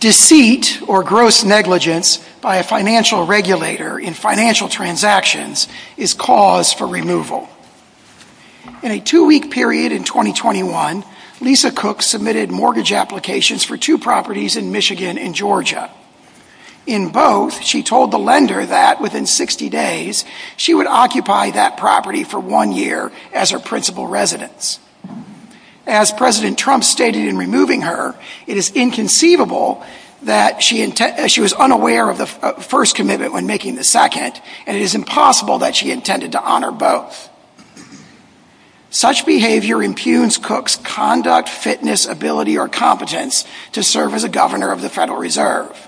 Deceit, or gross negligence, by a financial regulator in financial transactions is cause for removal. In a two-week period in 2021, Lisa Cook submitted mortgage applications for two properties in Michigan and Georgia. In both, she told the lender that, within 60 days, she would occupy that property for one year as her principal residence. As President Trump stated in removing her, it is inconceivable that she was unaware of the first commitment when making the second, and it is impossible that she intended to honor both. Such behavior impugns Cook's conduct, fitness, ability, or competence to serve as a governor of the Federal Reserve.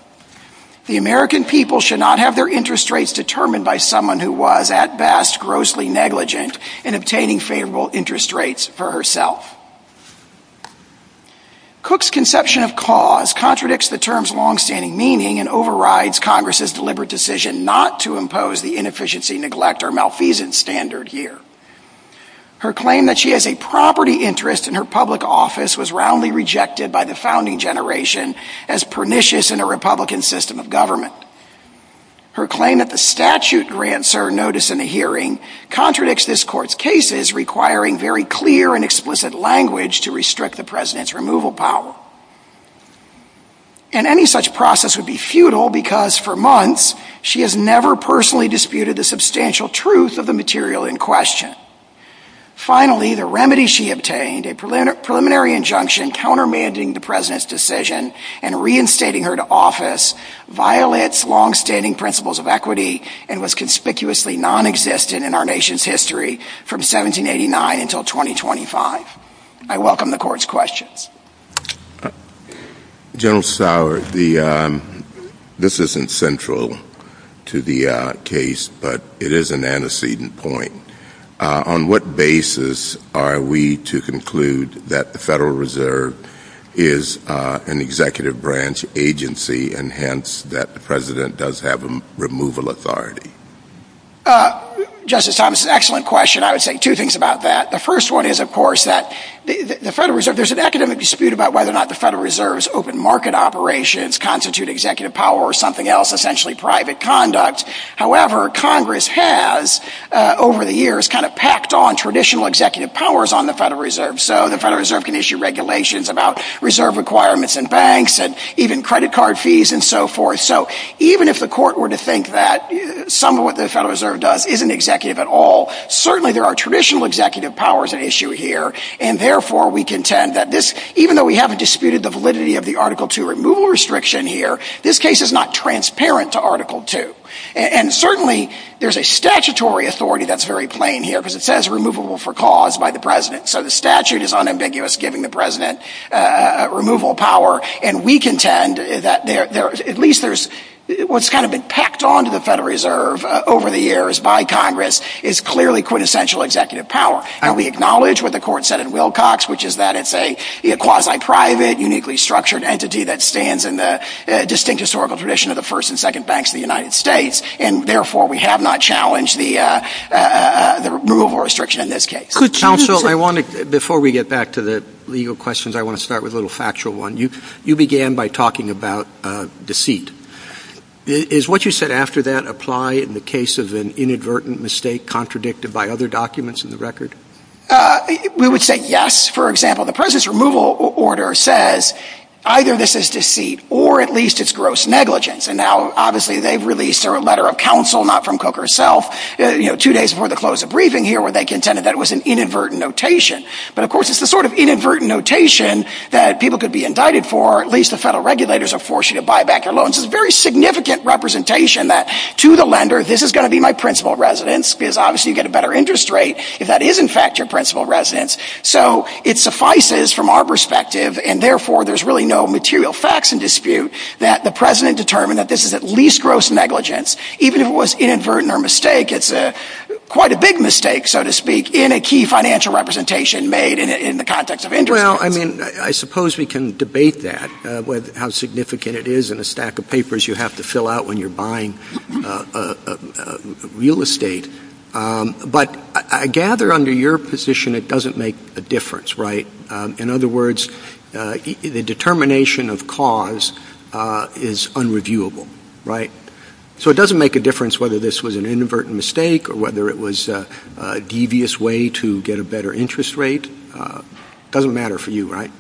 The American people should not have their interest rates determined by someone who was, at best, grossly negligent in obtaining favorable interest rates for herself. Cook's conception of cause contradicts the term's long-standing meaning and overrides Congress's deliberate decision not to impose the inefficiency, neglect, or malfeasance standard here. Her claim that she has a property interest in her public office was roundly rejected by the founding generation as pernicious in a Republican system of government. Her claim that the statute grants her notice in a hearing contradicts this Court's cases, requiring very clear and explicit language to restrict the President's removal power. Any such process would be futile because, for months, she has never personally disputed the substantial truth of the material in question. Finally, the remedy she obtained, a preliminary injunction countermanding the President's decision and reinstating her to office, violates long-standing principles of equity and was conspicuously non-existent in our nation's history from 1789 until 2025. I welcome the Court's questions. General Sauer, this isn't central to the case, but it is an antecedent point. On what basis are we to conclude that the Federal Reserve is an executive branch agency and hence that the President does have removal authority? Justice Thomas, excellent question. I would say two things about that. The first one is, of course, that there's an academic dispute about whether or not the Federal Reserve's open market operations constitute executive power or something else, essentially private conduct. However, Congress has, over the years, kind of packed on traditional executive powers on the Federal Reserve, so the Federal Reserve can issue regulations about reserve requirements in banks and even credit card fees and so forth. Even if the Court were to think that some of what the Federal Reserve does isn't executive at all, certainly there are traditional executive powers at issue here, and therefore we contend that this, even though we haven't disputed the validity of the Article II removal restriction here, this case is not transparent to Article II, and certainly there's a statutory authority that's very plain here because it says removable for cause by the President, so the statute is unambiguous giving the President removal power, and we contend that at least there's What's kind of been packed on to the Federal Reserve over the years by Congress is clearly quintessential executive power, and we acknowledge what the Court said in Wilcox, which is that it's a quasi-private, uniquely structured entity that stands in the distinct historical tradition of the first and second banks of the United States, and therefore we have not challenged the removal restriction in this case. Before we get back to the legal questions, I want to start with a little factual one. You began by talking about deceit. Is what you said after that apply in the case of an inadvertent mistake contradicted by other documents in the record? We would say yes. For example, the President's removal order says either this is deceit or at least it's gross negligence, and now obviously they've released their letter of counsel, not from Cooke herself, two days before the close of the briefing here where they contended that it was an inadvertent notation, but of course it's the sort of inadvertent notation that people could be indicted for, at least if federal regulators are forced to buy back their loans. It's a very significant representation that to the lender, this is going to be my principal residence, because obviously you get a better interest rate if that is in fact your principal residence. So it suffices from our perspective, and therefore there's really no material facts in dispute that the President determined that this is at least gross negligence, even if it was inadvertent or a mistake. It's quite a big mistake, so to speak, in a key financial representation made in the context of interest. Well, I mean, I suppose we can debate that, how significant it is in a stack of papers you have to fill out when you're buying real estate. But I gather under your position it doesn't make a difference, right? In other words, the determination of cause is unreviewable, right? So it doesn't make a difference whether this was an inadvertent mistake or whether it was a devious way to get a better interest rate. It doesn't matter for you, right?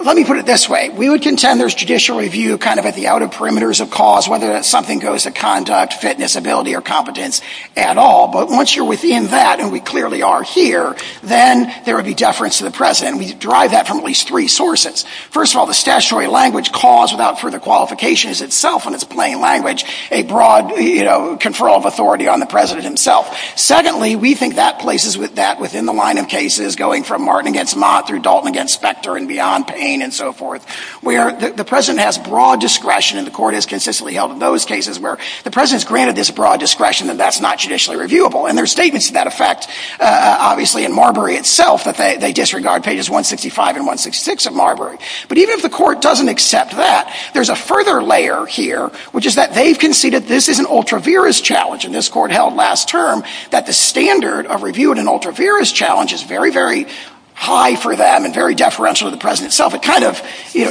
Let me put it this way. We would contend there's judicial review kind of at the outer perimeters of cause, whether something goes to conduct, fitness, ability, or competence at all. But once you're within that, and we clearly are here, then there would be deference to the President. We derive that from at least three sources. First of all, the statutory language, cause without further qualification, is itself in its plain language a broad control of authority on the President himself. Secondly, we think that places that within the line of cases going from Martin against Mott through Dalton against Specter and beyond, Payne and so forth, where the President has broad discretion and the Court has consistently held in those cases where the President's granted this broad discretion and that's not judicially reviewable. And there's statements to that effect, obviously, in Marbury itself that they disregard pages 165 and 166 of Marbury. But even if the Court doesn't accept that, there's a further layer here, which is that they've conceded this is an ultra-virus challenge, and this Court held last term that the standard of reviewing an ultra-virus challenge is very, very high for them and very deferential to the President itself. It kind of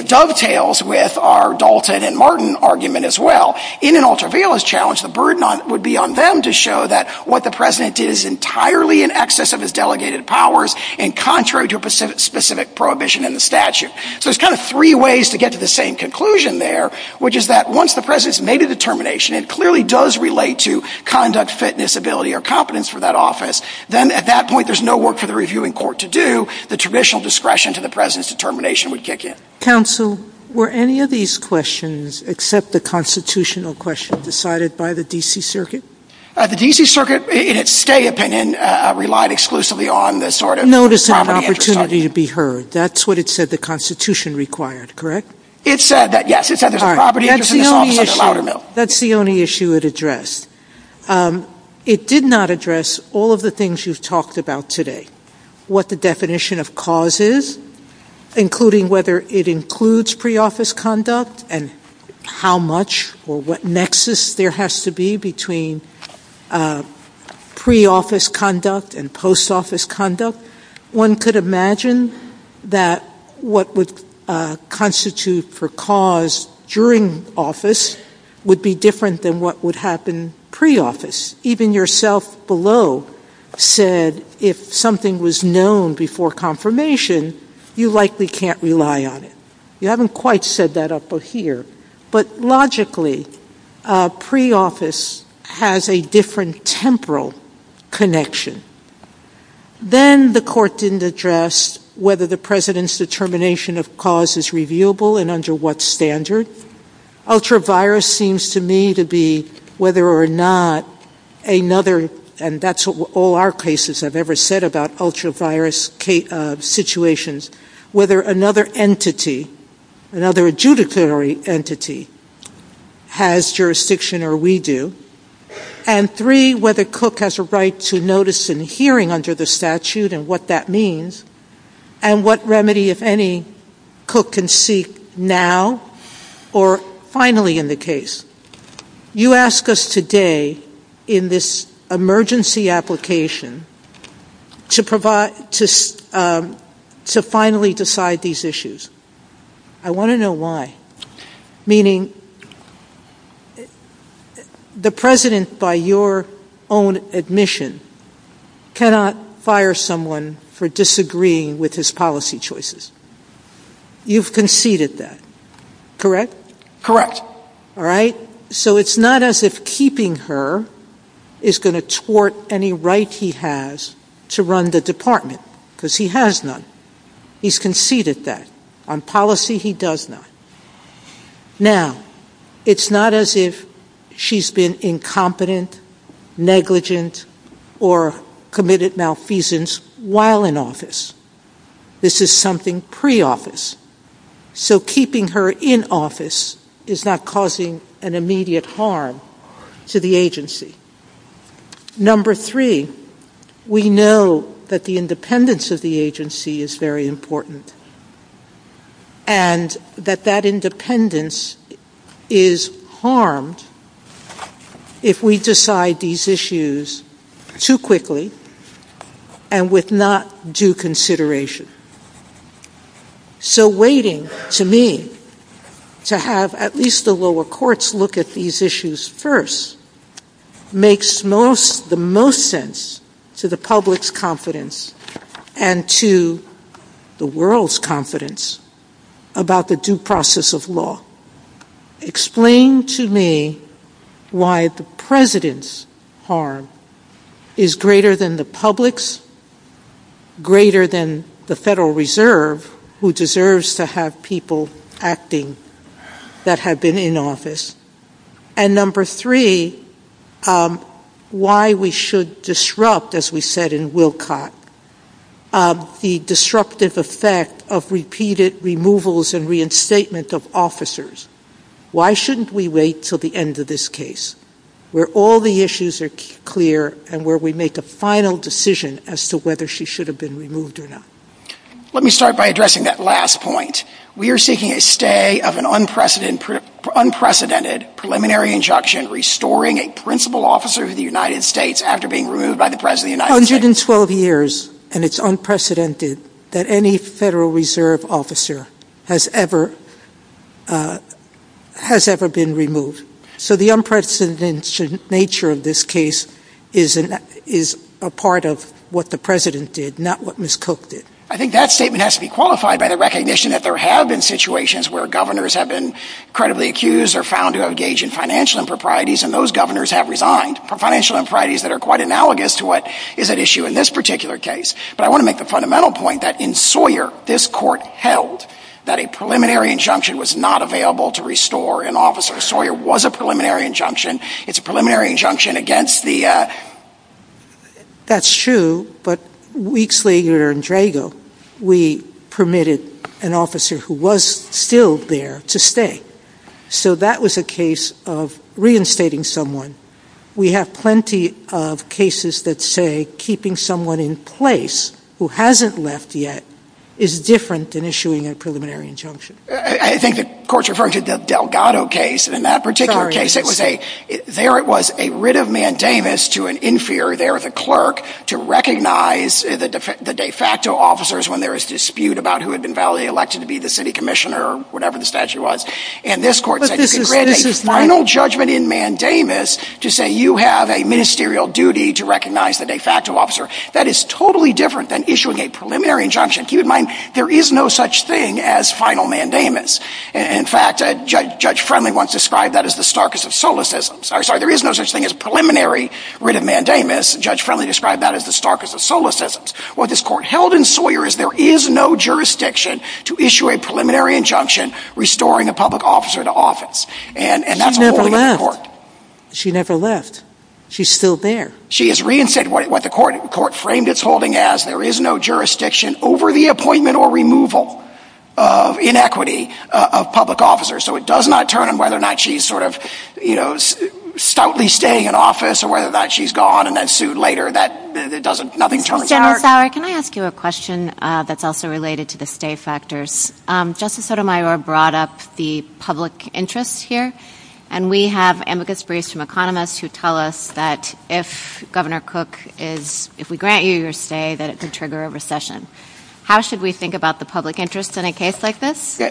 dovetails with our Dalton and Martin argument as well. In an ultra-virus challenge, the burden would be on them to show that what the President did is entirely in excess of his delegated powers and contrary to specific prohibition in the statute. So there's kind of three ways to get to the same conclusion there, which is that once the President's made a determination, it clearly does relate to conduct, fitness, ability, or competence for that office, then at that point, there's no work for the reviewing Court to do. The traditional discretion to the President's determination would kick in. Counsel, were any of these questions except the constitutional question decided by the D.C. Circuit? The D.C. Circuit, in its stay opinion, relied exclusively on the sort of property interests Notice of opportunity to be heard. That's what it said the Constitution required, correct? It said that, yes. That's the only issue it addressed. It did not address all of the things you've talked about today. What the definition of cause is, including whether it includes pre-office conduct and how much or what nexus there has to be between pre-office conduct and post-office conduct. One could imagine that what would constitute for cause during office would be different than what would happen pre-office. Even yourself below said, if something was known before confirmation, you likely can't rely on it. You haven't quite said that up here. But logically, pre-office has a different temporal connection. Then, the court didn't address whether the President's determination of cause is reviewable and under what standard. Ultra-virus seems to me to be whether or not another, and that's what all our cases have ever said about ultra-virus situations, whether another entity, another adjudicatory entity, has jurisdiction or we do. Three, whether Cook has a right to notice and hearing under the statute and what that means and what remedy, if any, Cook can seek now or finally in the case. You ask us today in this emergency application to finally decide these issues. I want to know why. Meaning, the President, by your own admission, cannot fire someone for disagreeing with his policy choices. You've conceded that. Correct? All right? So, it's not as if keeping her is going to thwart any right he has to run the department because he has none. He's conceded that. On policy, he does not. Now, it's not as if she's been incompetent, negligent, or committed malfeasance while in office. This is something pre-office. So keeping her in office is not causing an immediate harm to the agency. Number three, we know that the independence of the agency is very important and that that independence is harmed if we decide these issues too quickly and with not due consideration. So waiting, to me, to have at least the lower courts look at these issues first, is not makes the most sense to the public's confidence and to the world's confidence about the due process of law. Explain to me why the President's harm is greater than the public's, greater than the Federal Reserve, who deserves to have people acting that have been in office. And number three, why we should disrupt, as we said in Wilcott, the disruptive effect of repeated removals and reinstatement of officers. Why shouldn't we wait until the end of this case, where all the issues are clear and where we make a final decision as to whether she should have been removed or not? Let me start by addressing that last point. We are seeking a stay of an unprecedented preliminary injunction restoring a principal officer of the United States after being removed by the President of the United States. 112 years, and it's unprecedented that any Federal Reserve officer has ever been removed. So the unprecedented nature of this case is a part of what the President did, not what Ms. Koch did. I think that statement has to be qualified by the recognition that there have been situations where governors have been credibly accused or found to engage in financial improprieties and those governors have resigned for financial improprieties that are quite analogous to what is at issue in this particular case. But I want to make the fundamental point that in Sawyer, this court held that a preliminary injunction was not available to restore an officer. Sawyer was a preliminary injunction. It's a preliminary injunction against the... That's true, but weeks later in Drago, we permitted an officer who was still there to stay. So that was a case of reinstating someone. We have plenty of cases that say keeping someone in place who hasn't left yet is different than issuing a preliminary injunction. I think the court's referring to the Delgado case. In that particular case, it was a... Or it was a writ of mandamus to an inferior there, the clerk, to recognize the de facto officers when there is dispute about who had been validly elected to be the city commissioner or whatever the statute was. And this court takes the final judgment in mandamus to say you have a ministerial duty to recognize the de facto officer. That is totally different than issuing a preliminary injunction. Keep in mind, there is no such thing as final mandamus. In fact, Judge Friendly once described that as the starkest of solacisms. There is no such thing as preliminary writ of mandamus. Judge Friendly described that as the starkest of solacisms. What this court held in Sawyer's, there is no jurisdiction to issue a preliminary injunction restoring a public officer to office. And that's the holding of the court. She never left. She's still there. She is reinstating what the court framed its holding as. There is no jurisdiction over the appointment or removal of inequity of public officers. So it does not turn on whether or not she's sort of, you know, stoutly staying in office or whether or not she's gone in that suit later. That doesn't, nothing turns on that. Jennifer, can I ask you a question that's also related to the stay factors? Justice Sotomayor brought up the public interest here. And we have amicus briefs from economists who tell us that if Governor Cook is, if we grant you your stay, that it's a trigger of recession. How should we think about the public interest in a case like this?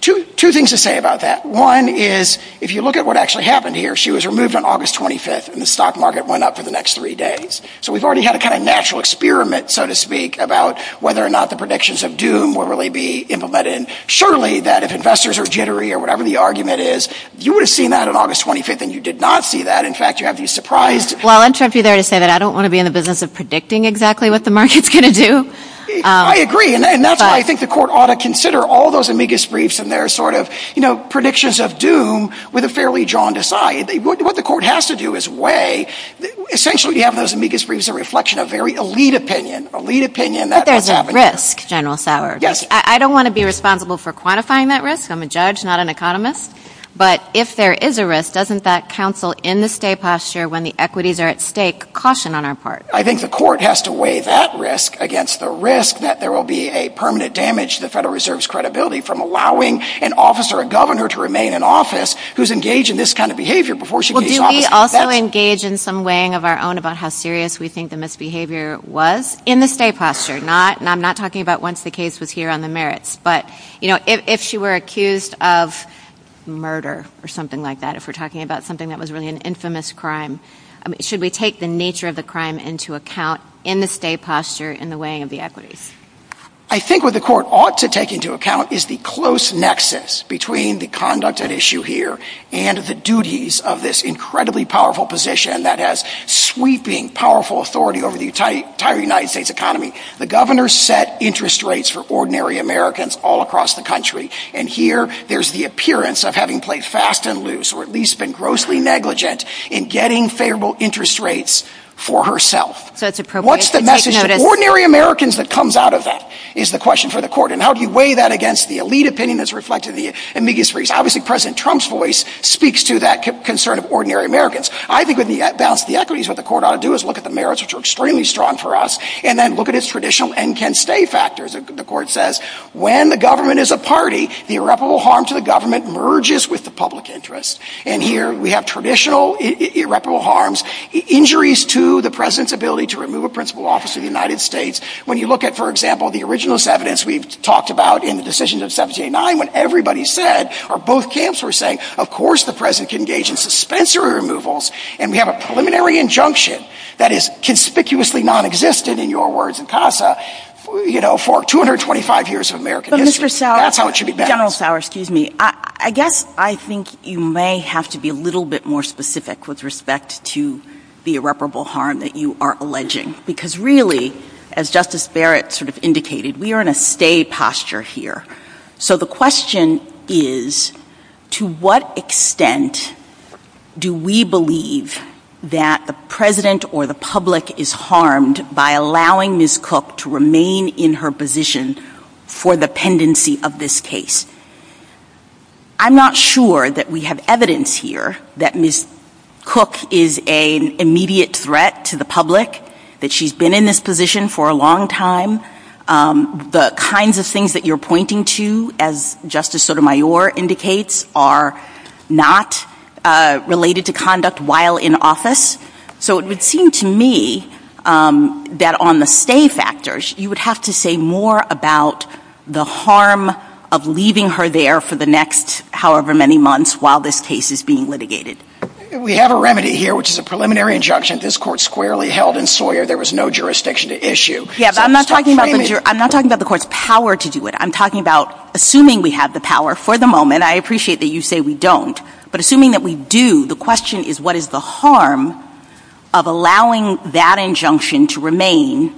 Two things to say about that. One is, if you look at what actually happened here, she was removed on August 25th and the stock market went up for the next three days. So we've already had a kind of natural experiment, so to speak, about whether or not the predictions of doom will really be implemented. And surely that if investors are jittery or whatever the argument is, you would have seen that on August 25th and you did not see that. In fact, you have to be surprised. Well, I'll interrupt you there to say that I don't want to be in the business of predicting exactly what the market's going to do. I agree. And that's why I think the court ought to consider all those amicus briefs and their sort of predictions of doom with a fairly jaundiced eye. What the court has to do is weigh, essentially you have those amicus briefs as a reflection of very elite opinion. Elite opinion. But there's a risk, General Sauer. I don't want to be responsible for quantifying that risk. I'm a judge, not an economist. But if there is a risk, doesn't that counsel in the stay posture when the equities are at stake caution on our part? I think the court has to weigh that risk against the risk that there will be a permanent damage to the Federal Reserve's credibility from allowing an officer, a governor to remain in office who's engaged in this kind of behavior before she can be... Well, do we also engage in some weighing of our own about how serious we think the misbehavior was in the stay posture? I'm not talking about once the case was here on the merits, but if she were accused of murder or something like that, if we're talking about something that was really an infamous crime, should we take the nature of the crime into account in the stay posture in the weighing of the equities? I think what the court ought to take into account is the close nexus between the conduct and issue here and the duties of this incredibly powerful position that has sweeping powerful authority over the entire United States economy. The governor set interest rates for ordinary Americans all across the country. And here, there's the appearance of having played fast and loose or at least been grossly negligent in getting favorable interest rates for herself. What's the message of ordinary Americans that comes out of that is the question for the And how do you weigh that against the elite opinion that's reflected in the amicus res. Obviously, President Trump's voice speaks to that concern of ordinary Americans. I think with the balance of the equities, what the court ought to do is look at the merits, which are extremely strong for us, and then look at its traditional and can stay factors. The court says, when the government is a party, the irreparable harm to the government merges with the public interest. And here, we have traditional irreparable harms, injuries to the president's ability to remove a principal office of the United States. When you look at, for example, the originalist evidence we've talked about in the decisions of 1789, when everybody said, or both camps were saying, of course, the president can engage in suspensory removals, and we have a preliminary injunction that is conspicuously non-existent in your words and Casa, you know, for 225 years of American history. Well, Mr. Sowers, General Sowers, excuse me, I guess I think you may have to be a little bit more specific with respect to the irreparable harm that you are alleging. Because really, as Justice Barrett sort of indicated, we are in a stay posture here. So the question is, to what extent do we believe that a president or the public is harmed by allowing Ms. Cook to remain in her position for the pendency of this case? I'm not sure that we have evidence here that Ms. Cook is an immediate threat to the public, that she's been in this position for a long time. The kinds of things that you're pointing to, as Justice Sotomayor indicates, are not related to conduct while in office. So it would seem to me that on the stay factors, you would have to say more about the harm of leaving her there for the next however many months while this case is being litigated. We have a remedy here, which is a preliminary injunction that this Court squarely held in Sawyer there was no jurisdiction to issue. Yeah, but I'm not talking about the Court's power to do it. I'm talking about assuming we have the power for the moment. I appreciate that you say we don't, but assuming that we do, the question is what is the harm of allowing that injunction to remain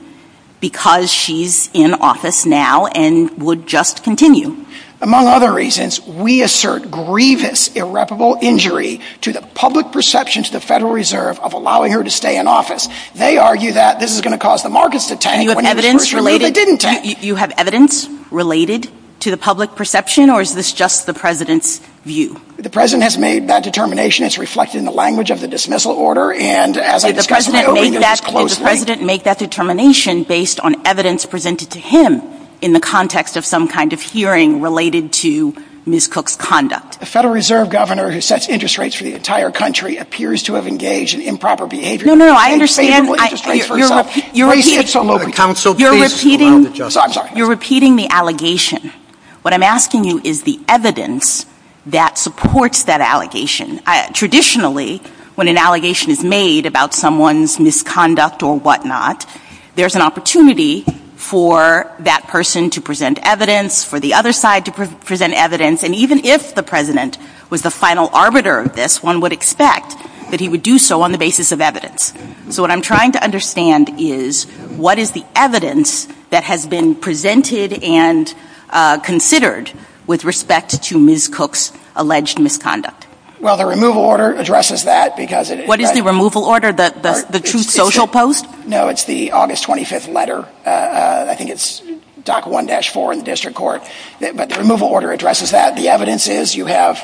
because she's in office now and would just continue? Among other reasons, we assert grievous irreparable injury to the public perception to the Federal Reserve of allowing her to stay in office. They argue that this is going to cause the markets to tank when they first heard they didn't tank. Do you have evidence related to the public perception, or is this just the President's view? The President has made that determination. It's reflected in the language of the dismissal order, and as I discussed earlier, it's closely. Did the President make that determination based on evidence presented to him in the context of some kind of hearing related to Ms. Cook's conduct? The Federal Reserve Governor who sets interest rates for the entire country appears to have engaged in improper behavior. No, no, no, I understand what you're repeating. You're repeating the allegation. What I'm asking you is the evidence that supports that allegation. Traditionally, when an allegation is made about someone's misconduct or whatnot, there's an opportunity for that person to present evidence, for the other side to present evidence, and even if the President was the final arbiter of this, one would expect that he would do so on the basis of evidence. So what I'm trying to understand is what is the evidence that has been presented and considered with respect to Ms. Cook's alleged misconduct? Well, the removal order addresses that because it is... What is the removal order, the two social posts? No, it's the August 25th letter, I think it's DOC 1-4 in the District Court, but the removal order addresses that. The evidence is you have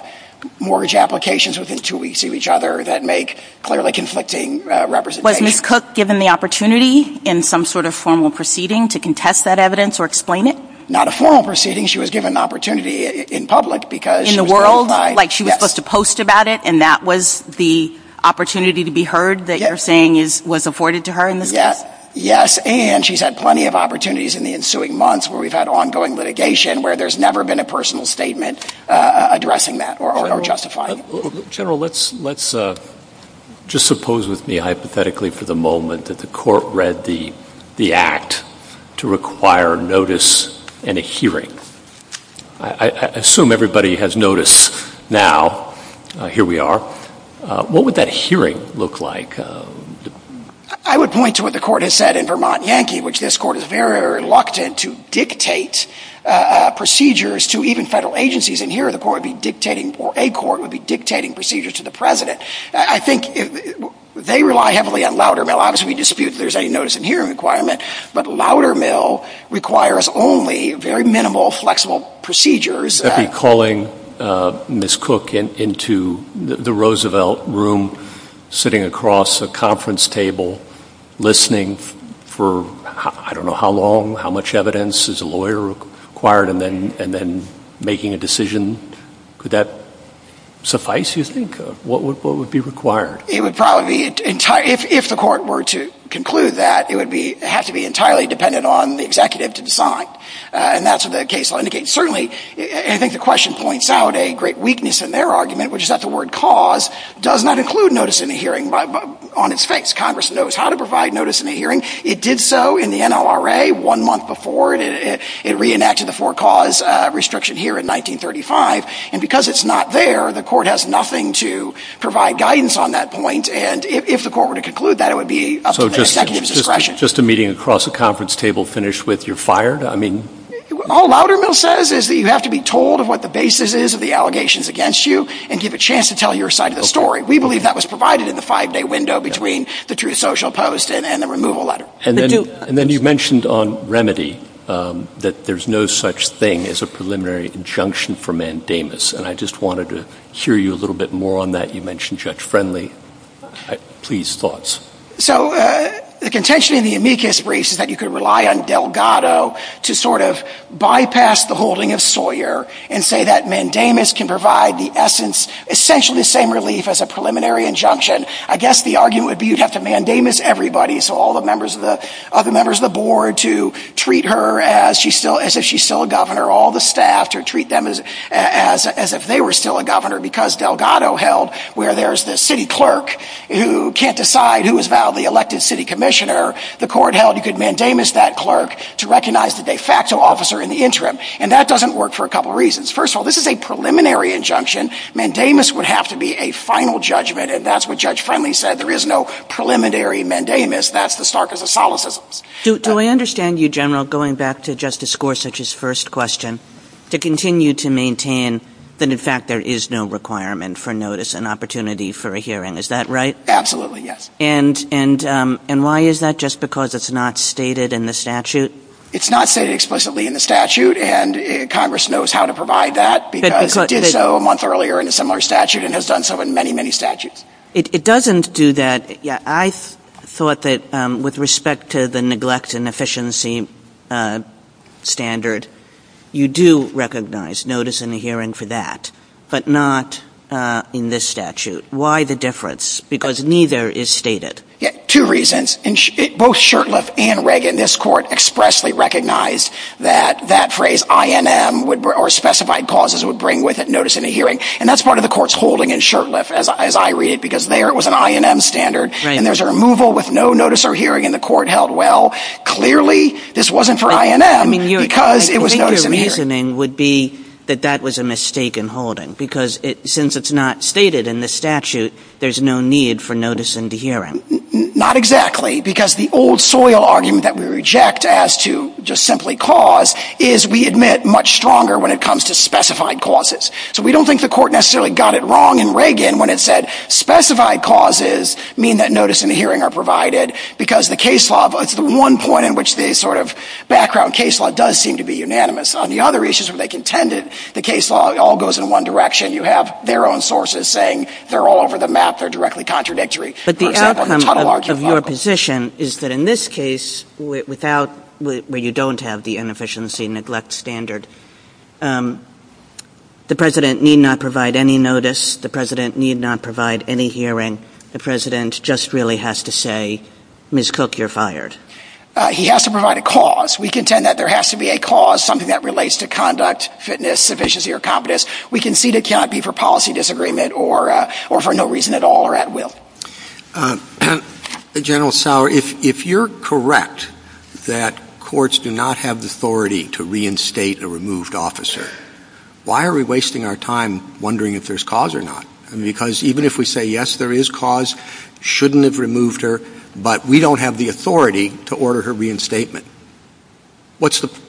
mortgage applications within two weeks to each other that make clearly conflicting representations. Was Ms. Cook given the opportunity in some sort of formal proceeding to contest that evidence or explain it? Not a formal proceeding. She was given an opportunity in public because... In the world? Like she was supposed to post about it, and that was the opportunity to be heard that you're saying was afforded to her in this case? Yes, and she's had plenty of opportunities in the ensuing months where we've had ongoing litigation where there's never been a personal statement addressing that or justifying it. General, let's just suppose with me hypothetically for the moment that the court read the act to require notice in a hearing. I assume everybody has notice now. Here we are. What would that hearing look like? I would point to what the court has said in Vermont Yankee, which this court is very reluctant to dictate procedures to even federal agencies, and here the court would be dictating, or a court would be dictating procedures to the president. I think they rely heavily on Loudermill. Obviously we dispute if there's any notice in hearing requirement, but Loudermill requires only very minimal, flexible procedures. That'd be calling Ms. Cook into the Roosevelt room, sitting across a conference table, listening for, I don't know how long, how much evidence is a lawyer required, and then making a decision. Could that suffice, you think? What would be required? It would probably, if the court were to conclude that, it would have to be entirely dependent on the executive to decide, and that's what the case law indicates. Certainly, I think the question points out a great weakness in their argument, which is that the word cause does not include notice in a hearing on its face. Congress knows how to provide notice in a hearing. It did so in the NLRA one month before it reenacted the four cause restriction here in 1935, and because it's not there, the court has nothing to provide guidance on that point, and if the court were to conclude that, it would be up to the executive's discretion. Just a meeting across a conference table, finished with, you're fired? All Loudermill says is that you have to be told what the basis is of the allegations against you, and give a chance to tell your side of the story. We believe that was provided in the five-day window between the true social posts and the removal letter. And then you mentioned on remedy that there's no such thing as a preliminary injunction for mandamus, and I just wanted to hear you a little bit more on that. You mentioned Judge Friendly. Please, thoughts. So, the contention in the amicus briefs is that you could rely on Delgado to sort of bypass the holding of Sawyer, and say that mandamus can provide the essence, essentially the same relief as a preliminary injunction. I guess the argument would be you'd have to mandamus everybody, so all the members of the board, to treat her as if she's still a governor. All the staff to treat them as if they were still a governor, because Delgado held, where there's the city clerk who can't decide who is validly elected city commissioner, the court held you could mandamus that clerk to recognize the de facto officer in the interim. And that doesn't work for a couple reasons. First of all, this is a preliminary injunction. Mandamus would have to be a final judgment, and that's what Judge Friendly said. There is no preliminary mandamus. That's the sarcasm of solacism. Do I understand you, General, going back to Justice Gorsuch's first question, to continue to maintain that, in fact, there is no requirement for notice and opportunity for a hearing, is that right? Absolutely, yes. And why is that, just because it's not stated in the statute? It's not stated explicitly in the statute, and Congress knows how to provide that, because it did so a month earlier in a similar statute, and has done so in many, many statutes. It doesn't do that. I thought that, with respect to the neglect and efficiency standard, you do recognize notice and a hearing for that, but not in this statute. Why the difference? Because neither is stated. Yeah, two reasons. And both Shurtleff and Reagan, this court, expressly recognized that that phrase, I-N-M, or specified causes, would bring with it notice and a hearing. And that's part of the court's holding in Shurtleff, as I read it, because there it was an I-N-M standard, and there's a removal with no notice or hearing, and the court held, well, clearly this wasn't for I-N-M, because it was notice and a hearing. I think your reasoning would be that that was a mistake in holding, because since it's not stated in the statute, there's no need for notice and a hearing. Not exactly, because the old soil argument that we reject as to just simply cause is, we admit, much stronger when it comes to specified causes. So we don't think the court necessarily got it wrong in Reagan when it said, specified causes mean that notice and a hearing are provided, because the case law, it's the one point in which the sort of background case law does seem to be unanimous. On the other issues where they contended, the case law all goes in one direction. You have their own sources saying they're all over the map, they're directly contradictory. But the outcome of your position is that in this case without, where you don't have the inefficiency neglect standard, the president need not provide any notice, the president need not provide any hearing, the president just really has to say, Ms. Cook, you're fired. He has to provide a cause. We contend that there has to be a cause, something that relates to conduct, fitness, efficiency or competence. We concede it cannot be for policy disagreement or for no reason at all or at will. General Sauer, if you're correct that courts do not have the authority to reinstate a removed officer, why are we wasting our time wondering if there's cause or not? Because even if we say, yes, there is cause, shouldn't have removed her, but we don't have the authority to order her reinstatement. What's the,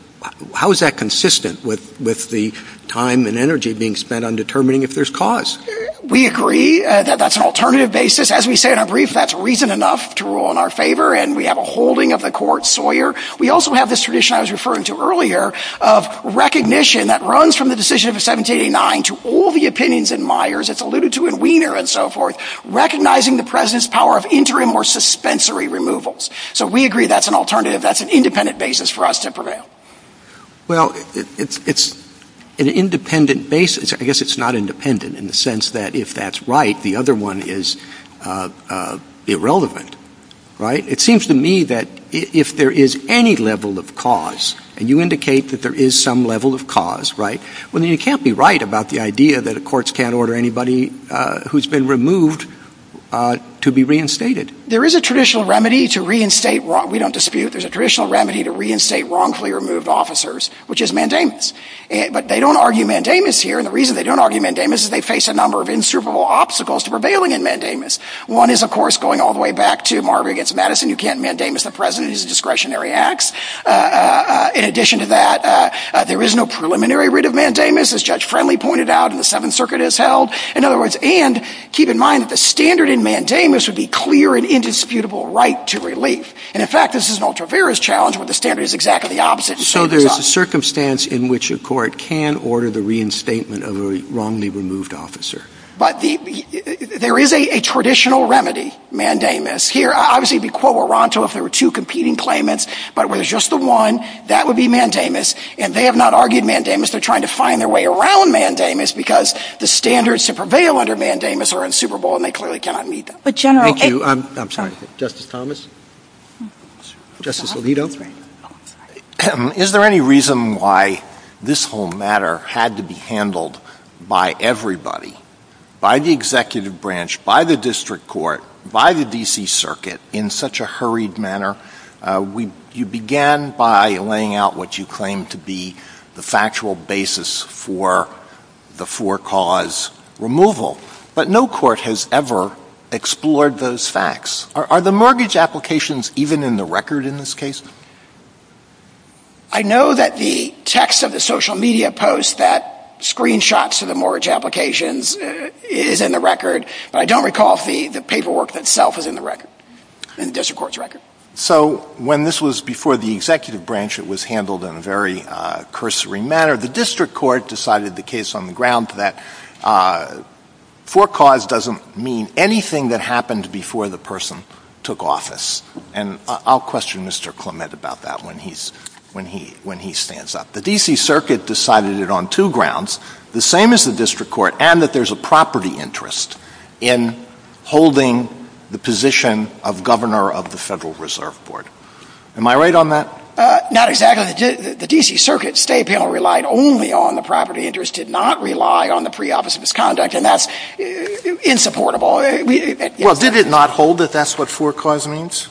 how is that consistent with the time and energy being spent on determining if there's cause? We agree that that's an alternative basis. As we said in our brief, that's reason enough to rule in our favor and we have a holding of the court, Sauer. We also have this tradition I was referring to earlier of recognition that runs from the decision of 1789 to all the opinions in Myers, it's alluded to in Wiener and so forth, recognizing the president's power of interim or suspensory removals. So we agree that's an alternative, that's an independent basis for us to prevail. Well, it's an independent basis. I guess it's not independent in the sense that if that's right, the other one is irrelevant, right? It seems to me that if there is any level of cause and you indicate that there is some level of cause, right, well then you can't be right about the idea that the courts can't order anybody who's been removed to be reinstated. There is a traditional remedy to reinstate, we don't dispute, there's a traditional remedy to reinstate wrongfully removed officers, which is mandamus. But they don't argue mandamus here and the reason they don't argue mandamus is they face a number of insuperable obstacles to prevailing in mandamus. One is, of course, going all the way back to Marvin against Madison, you can't mandamus the president, it's a discretionary act. In addition to that, there is no preliminary writ of mandamus as Judge Friendly pointed out in the Seventh Circuit has held. In other words, and keep in mind that the standard in mandamus would be clear and indisputable right to relief. And in fact, this is an ultra-various challenge where the standard is exactly the opposite. So there is a circumstance in which a court can order the reinstatement of a wrongly removed officer. But there is a traditional remedy, mandamus. Here, obviously, it would be quo oronto if there were two competing claimants, but where there's just the one, that would be mandamus. And they have not argued mandamus, they're trying to find their way around mandamus because the standards to prevail under mandamus are insuperable and they clearly cannot meet them. But General... Thank you. I'm sorry. Justice Thomas? Justice Alito? Is there any reason why this whole matter had to be handled by everybody, by the executive branch, by the district court, by the D.C. Circuit, in such a hurried manner? You began by laying out what you claimed to be the factual basis for the for-cause removal. But no court has ever explored those facts. Are the mortgage applications even in the record in this case? I know that the text of the social media post that screenshots of the mortgage applications is in the record. I don't recall the paperwork itself is in the record, in the district court's record. So when this was before the executive branch, it was handled in a very cursory manner. The district court decided the case on the ground that for-cause doesn't mean anything that happened before the person took office. And I'll question Mr. Clement about that when he stands up. The D.C. Circuit decided it on two grounds. The same as the district court, and that there's a property interest in holding the position of governor of the Federal Reserve Board. Am I right on that? Not exactly. The D.C. Circuit state panel relied only on the property interest, did not rely on the pre-office misconduct. And that's insupportable. Well, did it not hold that that's what for-cause means?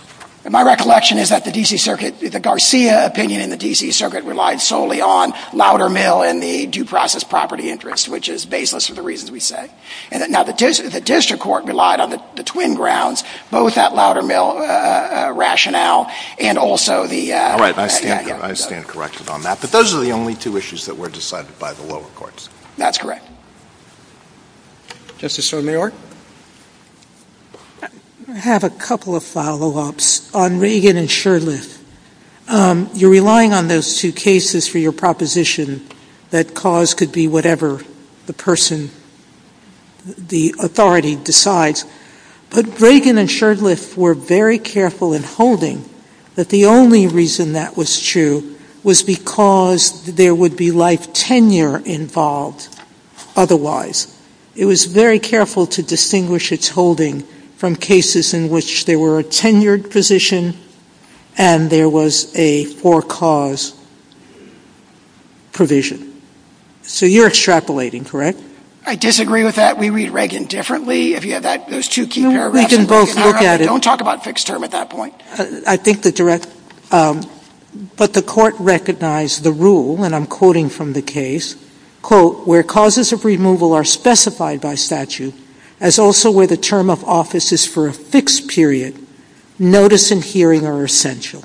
My recollection is that the D.C. Circuit, the Garcia opinion in the D.C. Circuit relied solely on Loudermill and the due process property interest, which is baseless of the reasons we say. And now the district court relied on the twin grounds, both that Loudermill rationale and also the- All right. I stand corrected on that. But those are the only two issues that were decided by the lower courts. That's correct. Justice Sotomayor? I have a couple of follow-ups on Reagan and Sherliff. You're relying on those two cases for your proposition that cause could be whatever the person, the authority decides. But Reagan and Sherliff were very careful in holding that the only reason that was true was because there would be life tenure involved otherwise. It was very careful to distinguish its holding from cases in which there were a tenured position and there was a for-cause provision. So you're extrapolating, correct? I disagree with that. We read Reagan differently. If you have that, those two key paragraphs- No, we can both look at it. Don't talk about fixed term at that point. I think the direct- But the court recognized the rule, and I'm quoting from the case, quote, where causes of removal are specified by statute as also where the term of office is for a fixed period, notice and hearing are essential.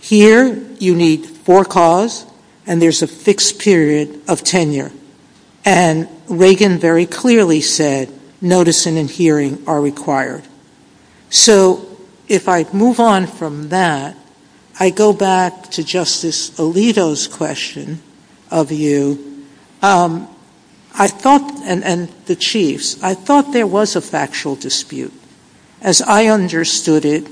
Here, you need for-cause, and there's a fixed period of tenure. And Reagan very clearly said notice and hearing are required. So if I move on from that, I go back to Justice Alito's question of you. I thought, and the Chiefs, I thought there was a factual dispute. As I understood it,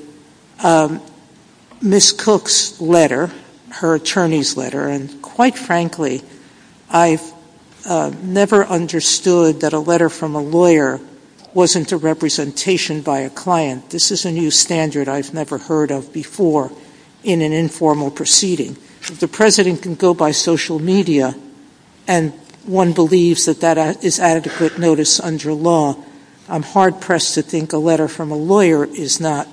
Ms. Cook's letter, her attorney's letter, and quite frankly, I never understood that a letter from a lawyer wasn't a representation by a client. This is a new standard I've never heard of before in an informal proceeding. The President can go by social media, and one believes that that is adequate notice under law. I'm hard-pressed to think a letter from a lawyer is not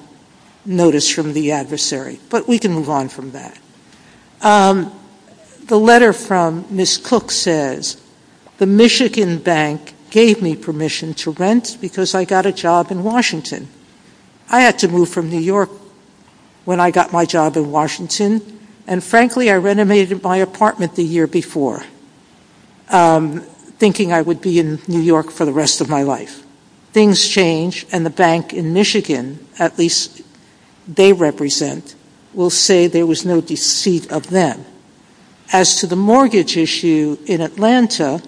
notice from the adversary. But we can move on from that. The letter from Ms. Cook says, the Michigan Bank gave me permission to rent because I got a job in Washington. I had to move from New York when I got my job in Washington. And frankly, I renovated my apartment the year before, thinking I would be in New York for the rest of my life. Things change, and the bank in Michigan, at least they represent, will say there was no deceit of them. As to the mortgage issue in Atlanta,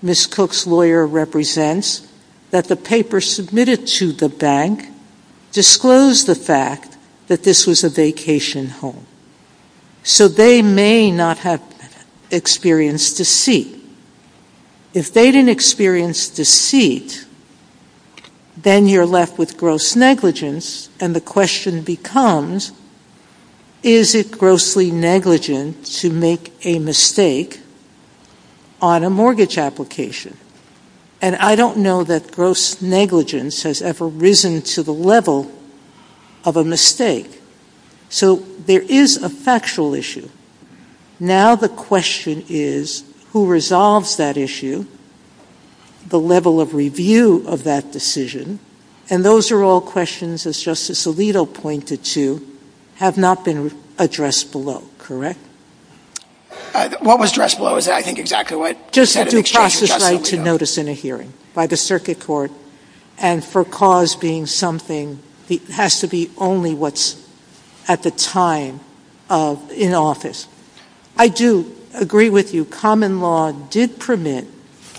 Ms. Cook's lawyer represents that the paper submitted to the bank disclosed the fact that this was a vacation home. So they may not have experienced deceit. If they didn't experience deceit, then you're left with gross negligence, and the question becomes, is it grossly negligent to make a mistake on a mortgage application? And I don't know that gross negligence has ever risen to the level of a mistake. So there is a factual issue. Now the question is, who resolves that issue, the level of review of that decision, and those are all questions, as Justice Alito pointed to, have not been addressed below, correct? What was addressed below? Is that, I think, exactly what... Just that you cross the site to notice in a hearing by the circuit court, and for cause being something that has to be only what's at the time in office. I do agree with you, common law did permit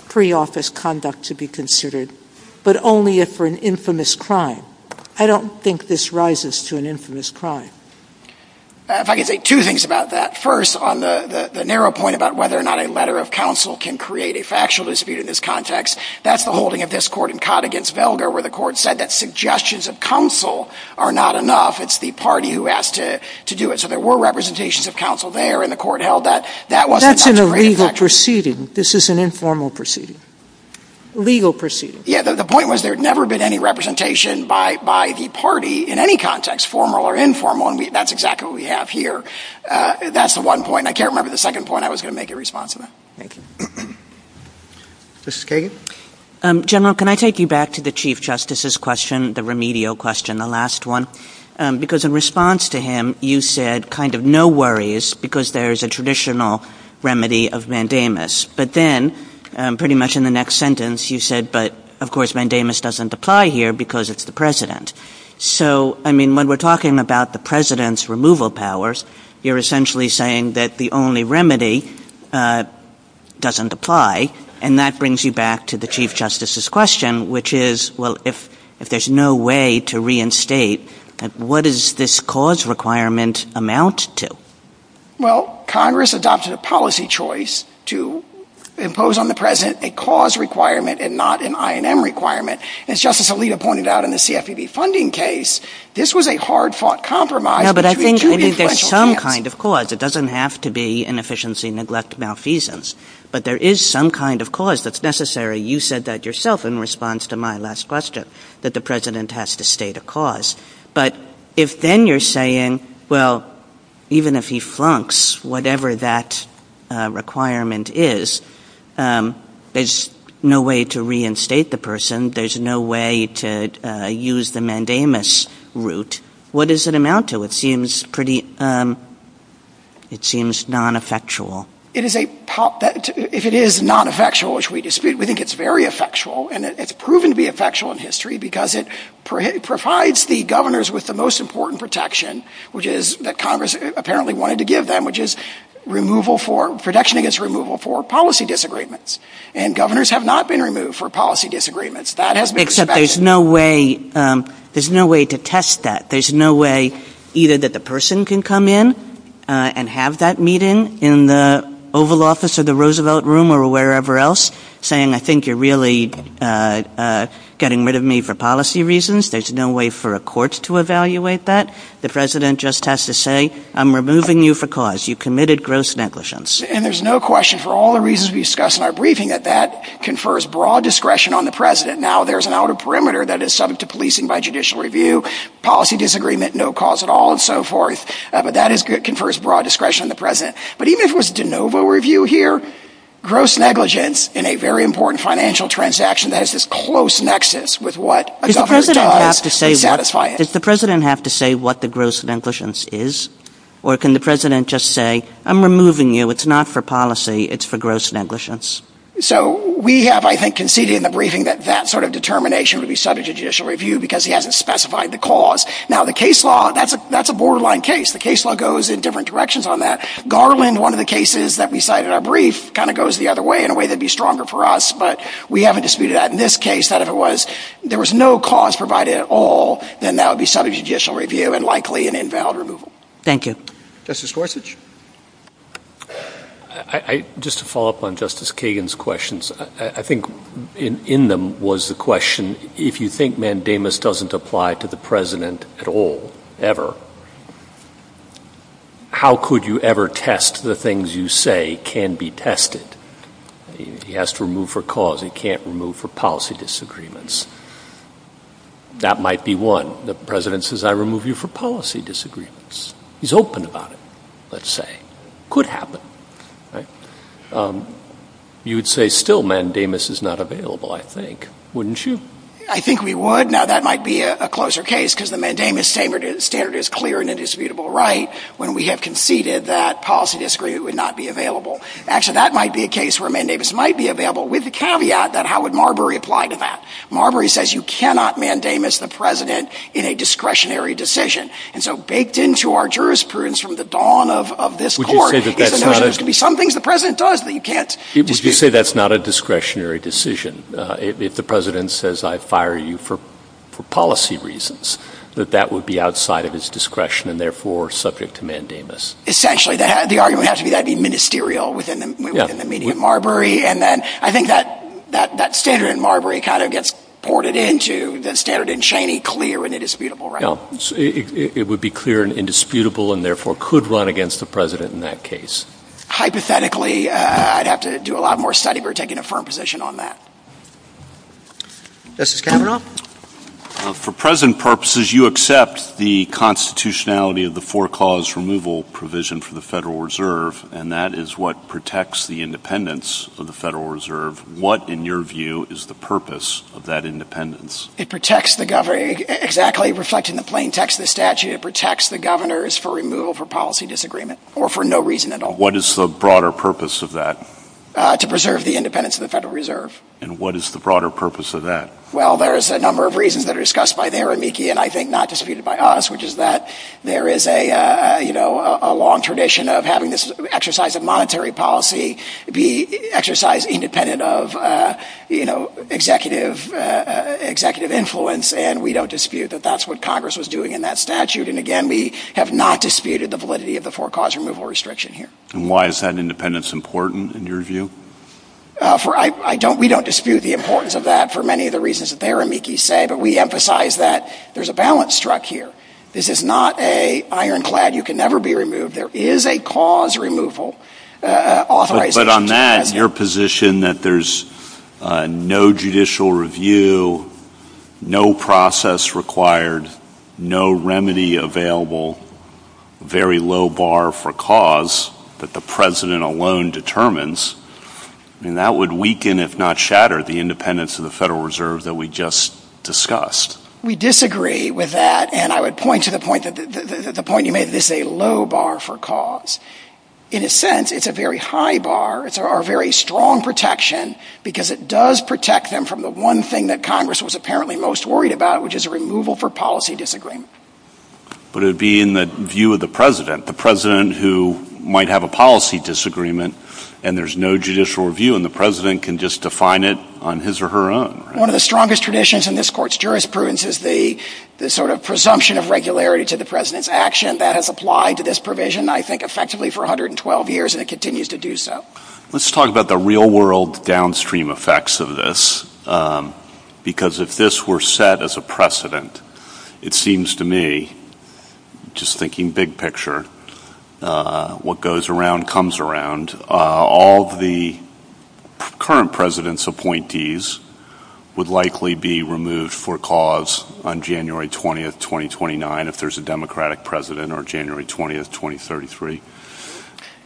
pre-office conduct to be considered, but only if for an infamous crime. I don't think this rises to an infamous crime. If I could say two things about that. First, on the narrow point about whether or not a letter of counsel can create a factual dispute in this context, that's the holding of this court in Conn against Velgar, where the court said that suggestions of counsel are not enough, it's the party who has to do it. So there were representations of counsel there, and the court held that... That's an illegal proceeding. This is an informal proceeding. Legal proceeding. Yeah, the point was there had never been any representation by the party in any context, formal or informal, and that's exactly what we have here. That's the one point. I can't remember the second point. I was going to make a response to that. Thank you. Mrs. Kagan? General, can I take you back to the Chief Justice's question, the remedial question, the last one? Because in response to him, you said kind of no worries because there's a traditional remedy of mandamus. But then, pretty much in the next sentence, you said, but of course, mandamus doesn't apply here because it's the president. So, I mean, when we're talking about the president's removal powers, you're essentially saying that the only remedy doesn't apply. And that brings you back to the Chief Justice's question, which is, well, if there's no way to reinstate, what does this cause requirement amount to? Well, Congress adopted a policy choice to impose on the president a cause requirement and not an I&M requirement. As Justice Alito pointed out in the CFPB funding case, this was a hard-fought compromise between two influential candidates. No, but I think if there's some kind of cause, it doesn't have to be inefficiency, neglect, malfeasance. But there is some kind of cause that's necessary. You said that yourself in response to my last question, that the president has to state a cause. But if then you're saying, well, even if he flunks whatever that requirement is, there's no way to reinstate the person. There's no way to use the mandamus route. What does it amount to? It seems pretty, it seems non-effectual. It is a, if it is non-effectual, which we dispute, we think it's very effectual. And it's proven to be effectual in history because it provides the governors with the most important protection, which is that Congress apparently wanted to give them, which is removal for, protection against removal for policy disagreements. And governors have not been removed for policy disagreements. Except there's no way, there's no way to test that. There's no way either that the person can come in and have that meeting in the Oval Office or the Roosevelt Room or wherever else saying, I think you're really getting rid of me for policy reasons. There's no way for a court to evaluate that. The president just has to say, I'm removing you for cause. You committed gross negligence. And there's no question for all the reasons we discussed in our briefing that that confers broad discretion on the president. Now there's an outer perimeter that is subject to policing by judicial review, policy disagreement, no cause at all, and so forth. But that is good, confers broad discretion on the president. But even if it was de novo review here, gross negligence in a very important financial transaction that has this close nexus with what a governor tries to satisfy it. Does the president have to say what the gross negligence is? Or can the president just say, I'm removing you. It's not for policy. It's for gross negligence. So we have, I think, conceded in the briefing that that sort of determination would be subject to judicial review because he hasn't specified the cause. Now the case law, that's a borderline case. The case law goes in different directions on that. Garland, one of the cases that we cited in our brief kind of goes the other way in a way that'd be stronger for us. But we haven't disputed that. In this case, that if it was, there was no cause provided at all, then that would be subject to judicial review and likely an invalid removal. Thank you. Justice Gorsuch. Just to follow up on Justice Kagan's questions, I think in them was the question, if you think mandamus doesn't apply to the president at all, ever, how could you ever test the things you say can be tested? He has to remove for cause. He can't remove for policy disagreements. That might be one. The president says, I remove you for policy disagreements. He's open about it. Let's say. Could happen, right? You'd say still mandamus is not available, I think, wouldn't you? I think we would. Now that might be a closer case because the mandamus standard is clear and a disputable right when we have conceded that policy disagreement would not be available. Actually, that might be a case where mandamus might be available with the caveat that how would Marbury apply to that? Marbury says you cannot mandamus the president in a discretionary decision. And so baked into our jurisprudence from the dawn of this court is that there has to be some things the president does that you can't. Would you say that's not a discretionary decision? If the president says, I fire you for policy reasons, that that would be outside of his discretion and therefore subject to mandamus? Essentially, the argument has to be that'd be ministerial within the immediate Marbury. And then I think that standard in Marbury kind of gets ported into the standard in Cheney clear and a disputable right. Well, it would be clear and indisputable and therefore could run against the president in that case. Hypothetically, I'd have to do a lot more study. We're taking a firm position on that. Justice Kavanaugh? For present purposes, you accept the constitutionality of the four cause removal provision for the Federal Reserve. And that is what protects the independence of the Federal Reserve. What, in your view, is the purpose of that independence? It protects the government exactly reflecting the plain text of the statute. It protects the governors for removal for policy disagreement or for no reason at all. What is the broader purpose of that? To preserve the independence of the Federal Reserve. And what is the broader purpose of that? Well, there is a number of reasons that are discussed by the Aramiki and I think not disputed by us, which is that there is a, you know, a long tradition of having this exercise of monetary policy be exercised independent of, you know, executive influence. And we don't dispute that that's what Congress was doing in that statute. And again, we have not disputed the validity of the four cause removal restriction here. And why is that independence important in your view? For, I don't, we don't dispute the importance of that for many of the reasons that the Aramiki say, but we emphasize that there's a balance struck here. This is not a ironclad, you can never be removed. There is a cause removal. But on that, your position that there's no judicial review, no process required, no remedy available, very low bar for cause that the president alone determines, and that would weaken if not shatter the independence of the Federal Reserve that we just discussed. We disagree with that. And I would point to the point that, the point you made is a low bar for cause. In a sense, it's a very high bar. It's a very strong protection because it does protect them from the one thing that Congress was apparently most worried about, which is a removal for policy disagreement. But it would be in the view of the president, the president who might have a policy disagreement and there's no judicial review and the president can just define it on his or her own. One of the strongest traditions in this court's jurisprudence is the sort of presumption of regularity to the president's action that has applied to this provision, I think, effectively for 112 years and it continues to do so. Let's talk about the real world downstream effects of this. Because if this were set as a precedent, it seems to me, just thinking big picture, what goes around comes around, all the current president's appointees would likely be removed for cause on January 20th, 2029, if there's a democratic president, or January 20th, 2033.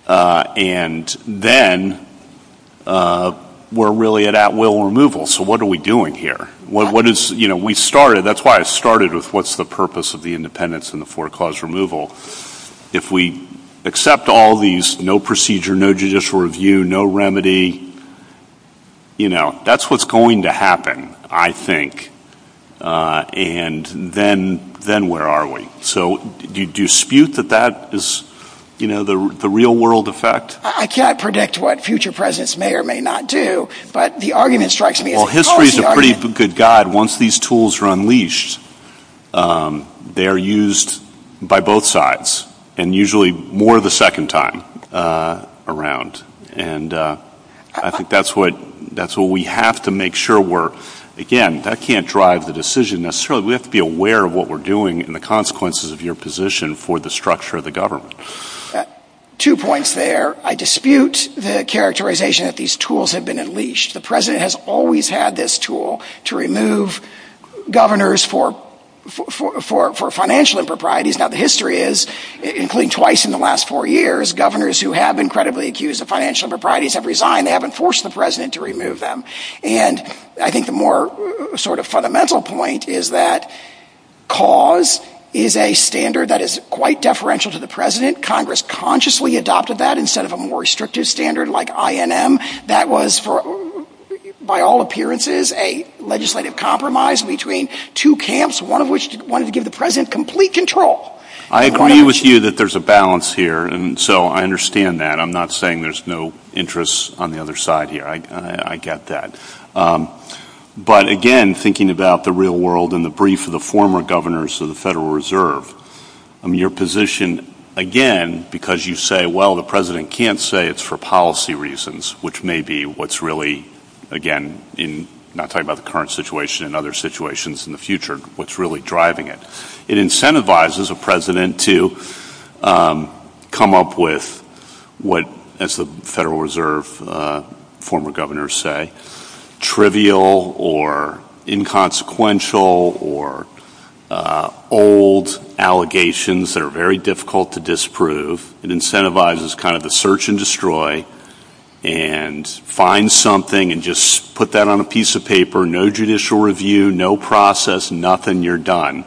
And then we're really at at will removal. So what are we doing here? What is, you know, we started, that's why I started with what's the purpose of the independence and the four clause removal. If we accept all these, no procedure, no judicial review, no remedy, you know, that's what's going to happen, I think. And then, then where are we? So do you dispute that that is, you know, the real world effect? I can't predict what future presidents may or may not do, but the argument strikes me as a policy argument. I mean, Hillary's a pretty good guide. Once these tools are unleashed, they are used by both sides, and usually more the second time around. And I think that's what, that's what we have to make sure we're, again, that can't drive the decision necessarily. We have to be aware of what we're doing and the consequences of your position for the structure of the government. Two points there. I dispute the characterization that these tools have been unleashed. The president has always had this tool to remove governors for financial improprieties. Now, the history is, including twice in the last four years, governors who have been credibly accused of financial improprieties have resigned. They haven't forced the president to remove them. And I think the more sort of fundamental point is that cause is a standard that is quite deferential to the president. Congress consciously adopted that instead of a more restrictive standard like INM. That was for, by all appearances, a legislative compromise between two camps, one of which wanted to give the president complete control. I agree with you that there's a balance here, and so I understand that. I'm not saying there's no interest on the other side here. I get that. But again, thinking about the real world and the brief of the former governors of the Federal Reserve, I mean, your position, again, because you say, well, the president can't say it's for policy reasons, which may be what's really, again, in not talking about the current situation and other situations in the future, what's really driving it. It incentivizes a president to come up with what, as the Federal Reserve former governors say, trivial or inconsequential or old allegations that are very difficult to disprove. It incentivizes kind of a search and destroy and find something and just put that on a piece of paper, no judicial review, no process, nothing, you're done.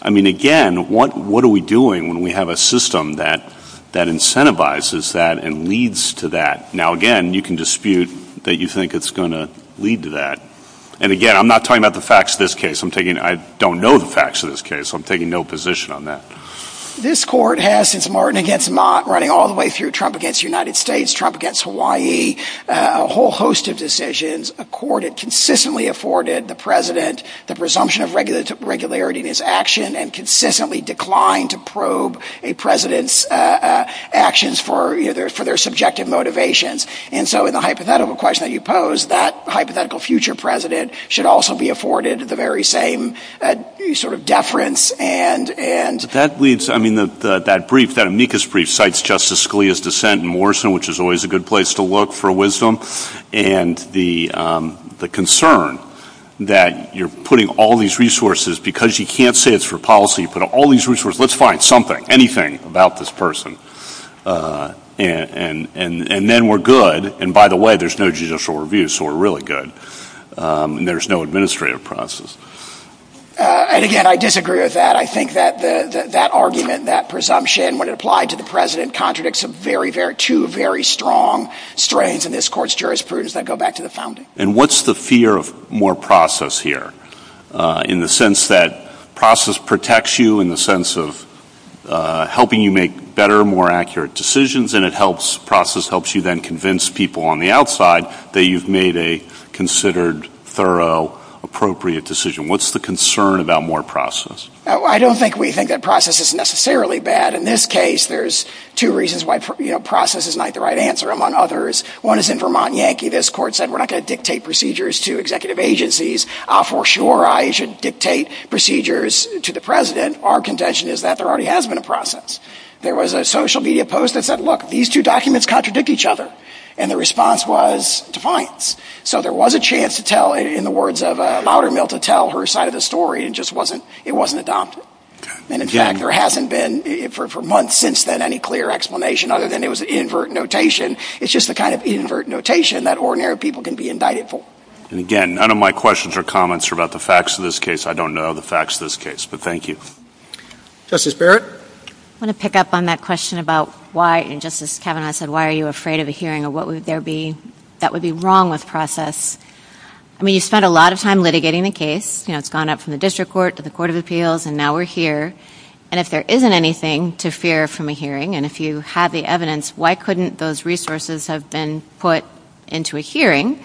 I mean, again, what are we doing when we have a system that incentivizes that and leads to that? Now, again, you can dispute that you think it's going to lead to that. And again, I'm not talking about the facts of this case. I'm thinking I don't know the facts of this case. I'm taking no position on that. This court has since Martin against Mott running all the way through Trump against the United States, Trump against Hawaii, a whole host of decisions. A court had consistently afforded the president the presumption of regularity in his action and consistently declined to probe a president's actions for their subjective motivations. And so in the hypothetical question that you posed, that hypothetical future president should also be afforded the very same sort of deference and... That leads, I mean, that brief, that amicus brief cites Justice Scalia's dissent in Morrison, which is always a good place to look for wisdom and the concern that you're putting all these resources because you can't say it's for policy. You put all these resources. Let's find something, anything about this person and then we're good. And by the way, there's no judicial review, so we're really good. And there's no administrative process. And again, I disagree with that. I think that that argument, that presumption, when it applied to the president, contradicts a very, very true, very strong strength in this court's jurisprudence. I go back to the founding. And what's the fear of more process here in the sense that process protects you in the sense of helping you make better, more accurate decisions? And it helps process helps you then convince people on the outside that you've made a considered, thorough, appropriate decision. What's the concern about more process? I don't think we think that process is necessarily bad. In this case, there's two reasons why, you know, process is not the right answer among others. One is in Vermont Yankee, this court said we're not going to dictate procedures to executive agencies. For sure, I should dictate procedures to the president. Our contention is that there already has been a process. There was a social media post that said, look, these two documents contradict each other. And the response was defiance. So there was a chance to tell in the words of a louder male to tell her side of the story and just wasn't, it wasn't adopted. And in fact, there hasn't been for months since then any clear explanation other than it was invert notation. It's just the kind of invert notation that ordinary people can be indicted for. And again, none of my questions or comments are about the facts of this case. I don't know the facts of this case, but thank you. Justice Barrett? I want to pick up on that question about why, and Justice Kavanaugh said, why are you afraid of a hearing or what would there be that would be wrong with process? I mean, you spent a lot of time litigating the case. You know, it's gone up from the district court to the court of appeals and now we're here. And if there isn't anything to fear from a hearing and if you have the evidence, why couldn't those resources have been put into a hearing?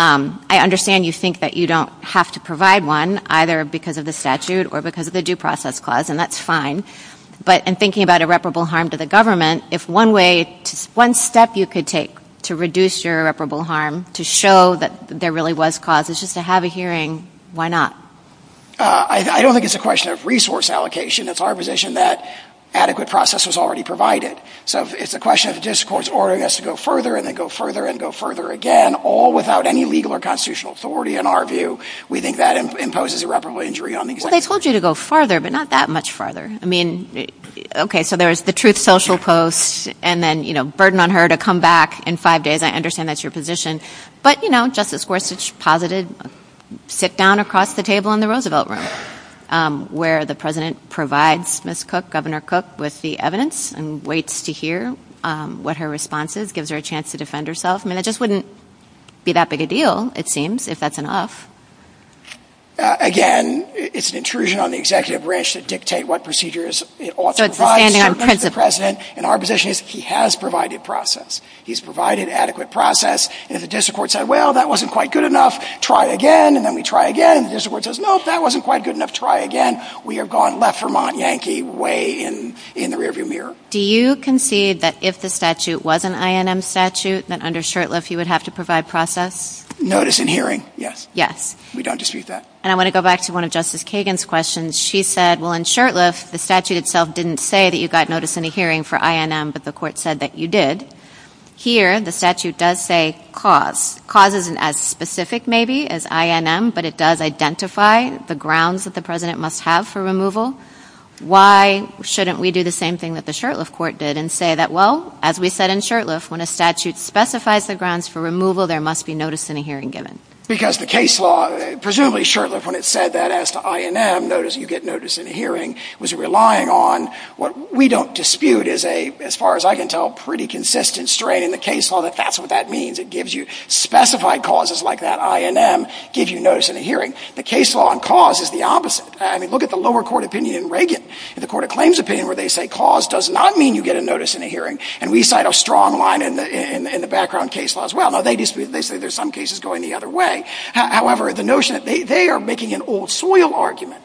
I understand you think that you don't have to provide one either because of the statute or because of the due process clause and that's fine. But in thinking about irreparable harm to the government, if one way, one step you could take to reduce your irreparable harm to show that there really was cause is just to have a hearing, why not? I don't think it's a question of resource allocation. It's our position that adequate process was already provided. So, it's a question of the district court's order has to go further and then go further and go further again, all without any legal or constitutional authority in our view. We think that imposes irreparable injury on the government. They told you to go farther, but not that much farther. I mean, okay, so there's the truth social post and then, you know, burden on her to come back in five days. I understand that's your position. But, you know, Justice Gorsuch posited sit down across the table in the Roosevelt Room where the president provides Ms. Cook, Governor Cook with the evidence and waits to hear what her response is, gives her a chance to defend herself. I mean, it just wouldn't be that big a deal, it seems, if that's enough. Again, it's an intrusion on the executive branch to dictate what procedures it ought to provide to the president. And our position is he has provided process. He's provided adequate process. If the district court said, well, that wasn't quite good enough, try again, and then we try again, the district court says, no, if that wasn't quite good enough, try again. We are gone left Vermont Yankee way in the rear view mirror. Do you concede that if the statute was an INM statute that under Shurtleff you would have to provide process? Notice and hearing, yes. Yes. We don't dispute that. And I want to go back to one of Justice Kagan's questions. She said, well, in Shurtleff, the statute itself didn't say that you got notice in a hearing for INM, but the court said that you did. Here, the statute does say cause. Cause isn't as specific maybe as INM, but it does identify the grounds that the president must have for removal. Why shouldn't we do the same thing that the Shurtleff court did and say that, well, as we said in Shurtleff, when a statute specifies the grounds for removal there must be notice in a hearing given? Because the case law, presumably Shurtleff, when it said that as INM, notice you get notice in a hearing, was relying on what we don't dispute as a, as far as I can tell, pretty consistent strain in the case law that that's what that means. It gives you specified causes like that INM gives you notice in a hearing. The case law on cause is the opposite. I mean, look at the lower court opinion in Reagan. In the court of claims opinion where they say cause does not mean you get a notice in a hearing, and we cite a strong line in the background case law as well. Now, they dispute, they say there's some cases going the other way. However, the notion that they are making an old soil argument.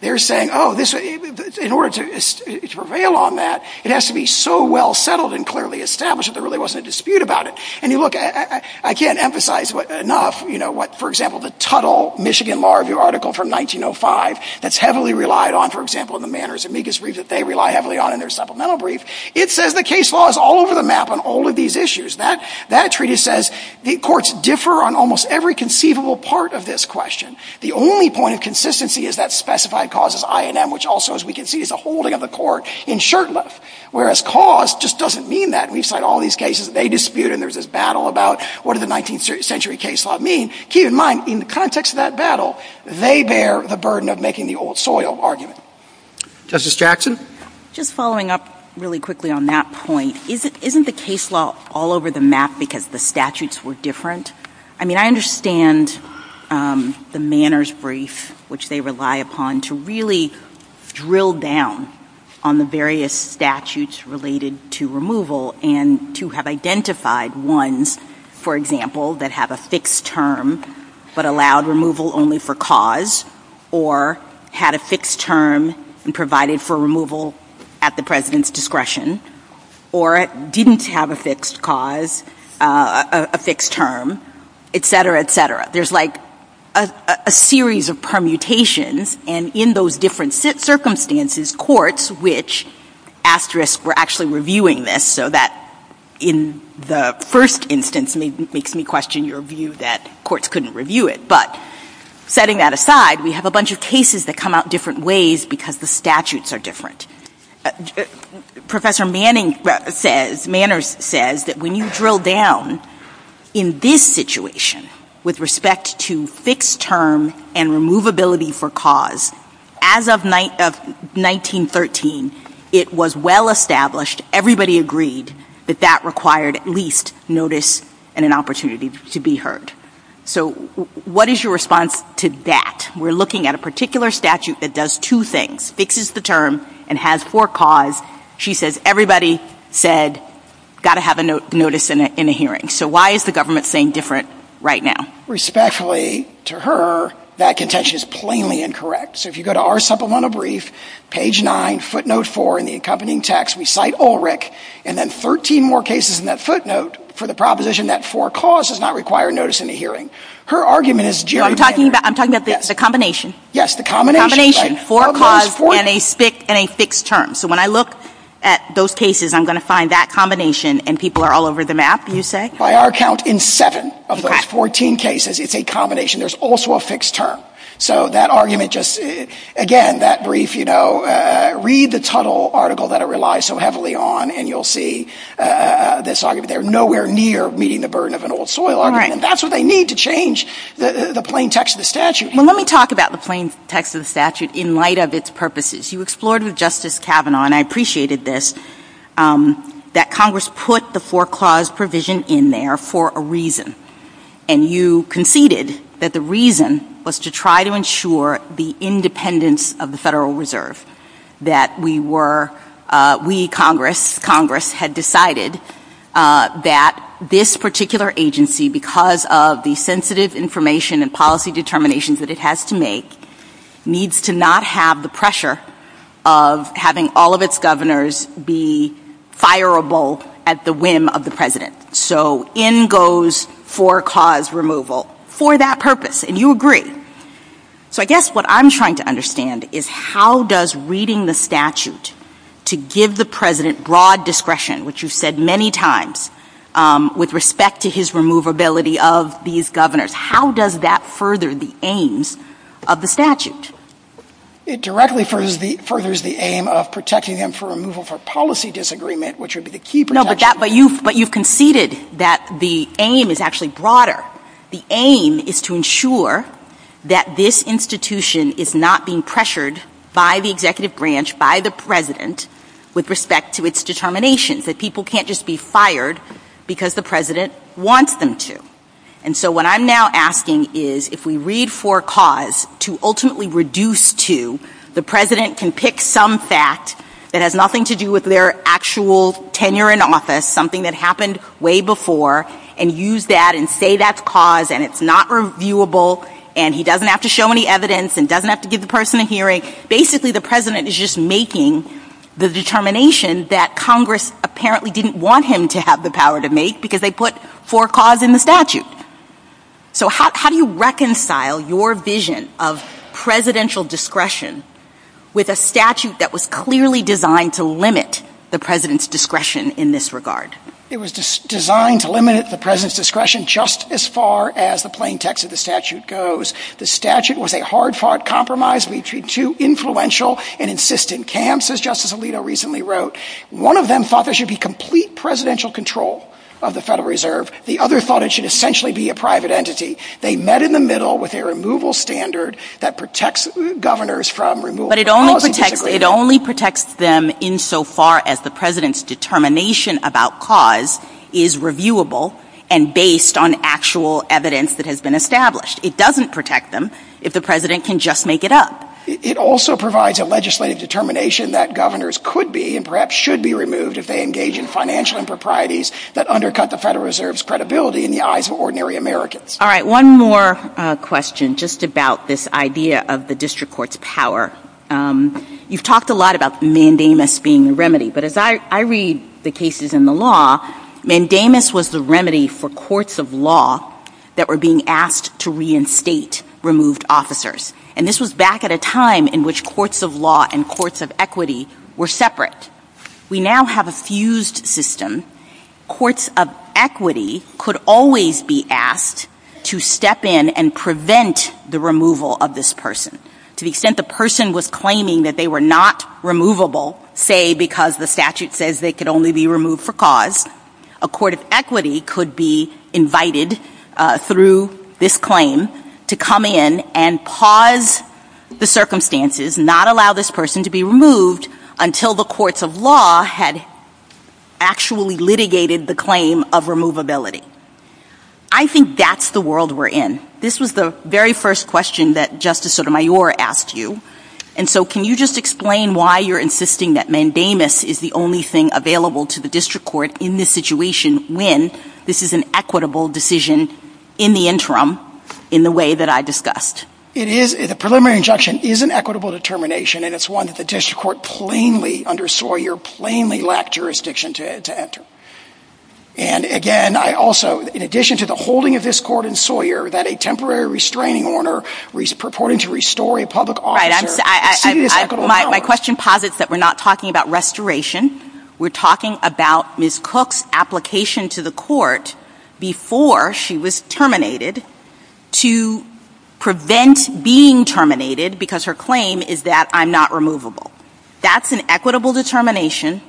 They're saying, oh, this, in order to prevail on that, it has to be so well settled and clearly established that there really wasn't a dispute about it. And you look at, I can't emphasize enough, you know, what, for example, the Tuttle Michigan Law Review article from 1905 that's heavily relied on, for example, in the Manners Amicus brief that they rely heavily on in their supplemental brief. It says the case law is all over the map on all of these issues. That, that treaty says the courts differ on almost every conceivable part of this question. The only point of consistency is that specified cause is I and M, which also, as we can see, is a holding of the court in shirtless, whereas cause just doesn't mean that. We cite all these cases that they dispute, and there's this battle about what did the 19th century case law mean. Keep in mind, in the context of that battle, they bear the burden of making the old soil argument. Justice Jackson? Just following up really quickly on that point, isn't, isn't the case law all over the map because the statutes were different? I mean, I understand the Manners brief, which they rely upon to really drill down on the various statutes related to removal and to have identified ones, for example, that have a fixed term but allowed removal only for cause, or had a fixed term and provided for removal at the president's discretion, or didn't have a fixed cause, a fixed term, et cetera, et cetera. There's like a series of permutations, and in those different circumstances, courts, which asterisk we're actually reviewing this so that in the first instance makes me question your view that courts couldn't review it, but setting that aside, we have a bunch of cases that come out different ways because the statutes are different. Professor Manning says, Manners says that when you drill down in this situation with respect to fixed term and removability for cause, as of 1913, it was well established, everybody agreed that that required at least notice and an opportunity to be heard. So what is your response to that? We're looking at a particular statute that does two things, fixes the term and has for cause, she says everybody said got to have a notice in a hearing. So why is the government saying different right now? Respectfully to her, that contention is plainly incorrect. So if you go to our supplemental brief, page 9, footnote 4 in the accompanying text, we cite Ulrich, and then 13 more cases in that footnote for the proposition that for cause does not require notice in a hearing. Her argument is geographic. I'm talking about the combination. Yes, the combination. Four cause and a fixed term. So when I look at those cases, I'm going to find that combination and people are all over the map, you say? By our count, in seven of those 14 cases, it's a combination. There's also a fixed term. So that argument just, again, that brief, you know, read the tunnel article that it relies so heavily on and you'll see this argument. They're nowhere near meeting the burden of an old soil argument. That's what they need to change the plain text of the statute. Let me talk about the plain text of the statute in light of its purposes. You explored with Justice Kavanaugh, and I appreciated this, that Congress put the four cause provision in there for a reason. And you conceded that the reason was to try to ensure the independence of the Federal Reserve. That we were, we Congress, Congress had decided that this particular agency, because of the sensitive information and policy determinations that it has to make, needs to not have the pressure of having all of its governors be fireable at the whim of the President, so in goes four cause removal for that purpose. And you agree. So I guess what I'm trying to understand is how does reading the statute to give the President broad discretion, which you've said many times with respect to his removability of these governors. How does that further the aims of the statute? It directly furthers the aim of protecting them for removal for policy disagreement, which would be the key protection. No, but you conceded that the aim is actually broader. The aim is to ensure that this institution is not being pressured by the executive branch, by the President, with respect to its determinations. That people can't just be fired because the President wants them to. And so what I'm now asking is if we read four cause to ultimately reduce to, the President can pick some fact that has nothing to do with their actual tenure in office, something that happened way before, and use that and say that's cause and it's not reviewable and he doesn't have to show any evidence and doesn't have to give the person a hearing. Basically the President is just making the determination that Congress apparently didn't want him to have the power to make because they put four cause in the statute. So how do you reconcile your vision of presidential discretion with a statute that was clearly designed to limit the President's discretion in this regard? It was designed to limit the President's discretion just as far as the plain text of the statute goes. The statute was a hard fought compromise between two influential and insistent camps as Justice Alito recently wrote. One of them thought there should be complete presidential control of the Federal Reserve. The other thought it should essentially be a private entity. They met in the middle with a removal standard that protects governors from removal. But it only protects them in so far as the President's determination about cause is reviewable and based on actual evidence that has been established. It doesn't protect them if the President can just make it up. It also provides a legislative determination that governors could be and perhaps should be removed if they engage in financial improprieties that undercut the Federal Reserve's credibility in the eyes of ordinary Americans. All right, one more question just about this idea of the district court's power. You've talked a lot about mandamus being the remedy, but as I read the cases in the law, mandamus was the remedy for courts of law that were being asked to reinstate removed officers. And this was back at a time in which courts of law and courts of equity were separate. We now have a fused system. Courts of equity could always be asked to step in and prevent the removal of this person. To the extent the person was claiming that they were not removable, say because the statute says they could only be removed for cause, a court of equity could be invited through this claim to come in and pause the circumstances, not allow this person to be removed until the courts of law had actually litigated the claim of removability. I think that's the world we're in. This was the very first question that Justice Sotomayor asked you. And so can you just explain why you're insisting that mandamus is the only thing available to the district court in this situation when this is an equitable decision in the interim in the way that I discussed? It is. The preliminary injunction is an equitable determination, and it's one that the district court plainly, under Sawyer, plainly lacked jurisdiction to enter. And again, I also, in addition to the holding of this court in Sawyer that a temporary restraining order purporting to restore a public officer and my question posits that we're not talking about restoration. We're talking about Ms. Cook's application to the court before she was terminated to prevent being terminated because her claim is that I'm not removable. That's an equitable determination.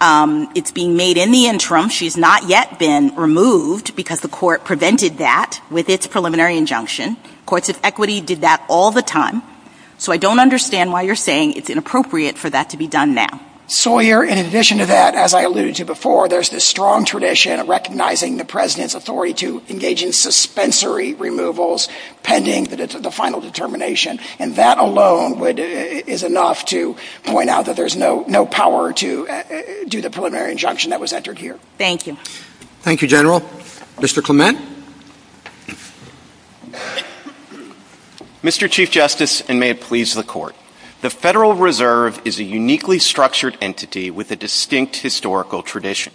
It's being made in the interim. She's not yet been removed because the court prevented that with its preliminary injunction. Courts of equity did that all the time. So I don't understand why you're saying it's inappropriate for that to be done now. Sawyer, in addition to that, as I alluded to before, there's this strong tradition of recognizing the president's authority to engage in suspensory removals pending that it's the final determination, and that alone would, is enough to point out that there's no power to do the preliminary injunction that was entered here. Thank you. Thank you, General. Mr. Clement? Mr. Chief Justice, and may it please the court, the Federal Reserve is a uniquely structured entity with a distinct historical tradition.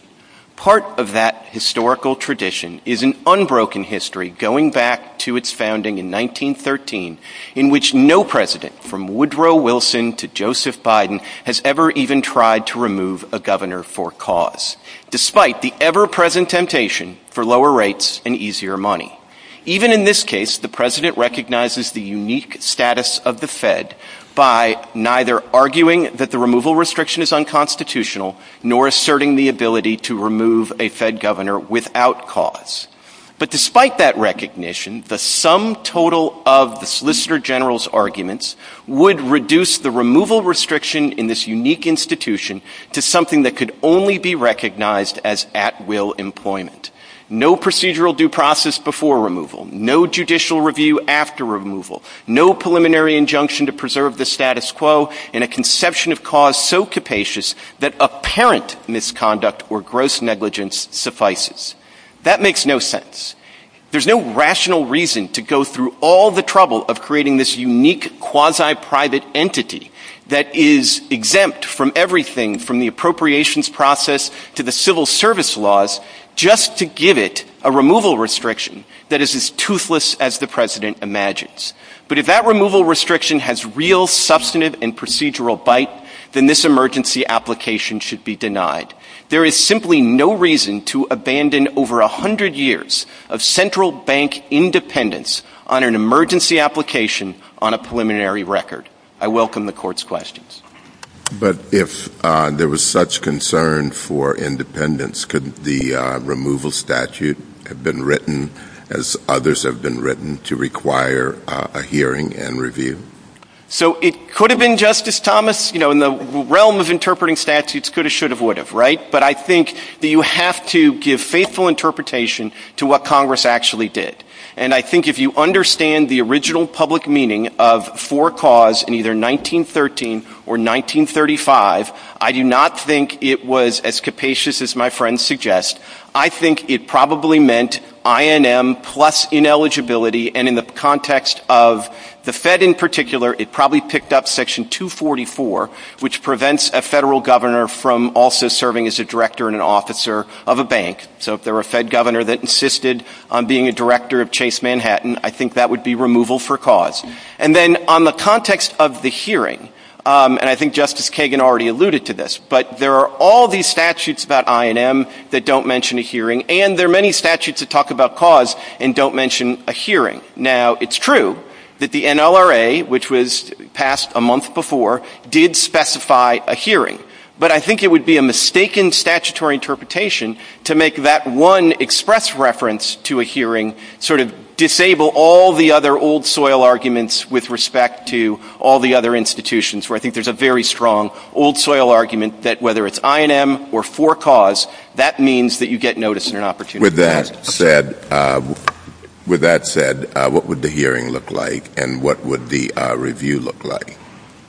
Part of that historical tradition is an unbroken history going back to its founding in 1913 in which no president, from Woodrow Wilson to Joseph Biden, has ever even tried to remove a governor for cause. Despite the ever-present temptation for lower rates and easier money. Even in this case, the president recognizes the unique status of the Fed by neither arguing that the removal restriction is unconstitutional nor asserting the ability to remove a Fed governor without cause. But despite that recognition, the sum total of the Solicitor General's arguments would reduce the removal restriction in this unique institution to something that could only be recognized as at-will employment. No procedural due process before removal, no judicial review after removal, no preliminary injunction to preserve the status quo, and a conception of cause so capacious that apparent misconduct or gross negligence suffices. That makes no sense. There's no rational reason to go through all the trouble of creating this unique quasi-private entity that is exempt from everything from the appropriations process to the civil service laws just to give it a removal restriction that is as toothless as the president imagines. But if that removal restriction has real substantive and procedural bite, then this emergency application should be denied. There is simply no reason to abandon over 100 years of central bank independence on an emergency application on a preliminary record. I welcome the court's questions. But if there was such concern for independence, could the removal statute have been written as others have been written to require a hearing and review? So it could have been, Justice Thomas, you know, in the realm of interpreting statutes, could have, should have, would have, right? But I think that you have to give faithful interpretation to what Congress actually did. And I think if you understand the original public meaning of for cause in either 1913 or 1935, I do not think it was as capacious as my friends suggest. I think it probably meant INM plus ineligibility. And in the context of the Fed in particular, it probably picked up Section 244, which prevents a federal governor from also serving as a director and an officer of a bank. So if there were a Fed governor that insisted on being a director of Chase Manhattan, I think that would be removal for cause. And then on the context of the hearing, and I think Justice Kagan already alluded to this, but there are all these statutes about INM that don't mention a hearing. And there are many statutes that talk about cause and don't mention a hearing. Now, it's true that the NLRA, which was passed a month before, did specify a hearing. But I think it would be a mistaken statutory interpretation to make that one express reference to a hearing, sort of disable all the other old soil arguments with respect to all the other institutions, where I think there's a very strong old soil argument that whether it's INM or for cause, that means that you get notice and an opportunity. With that said, what would the hearing look like and what would the review look like?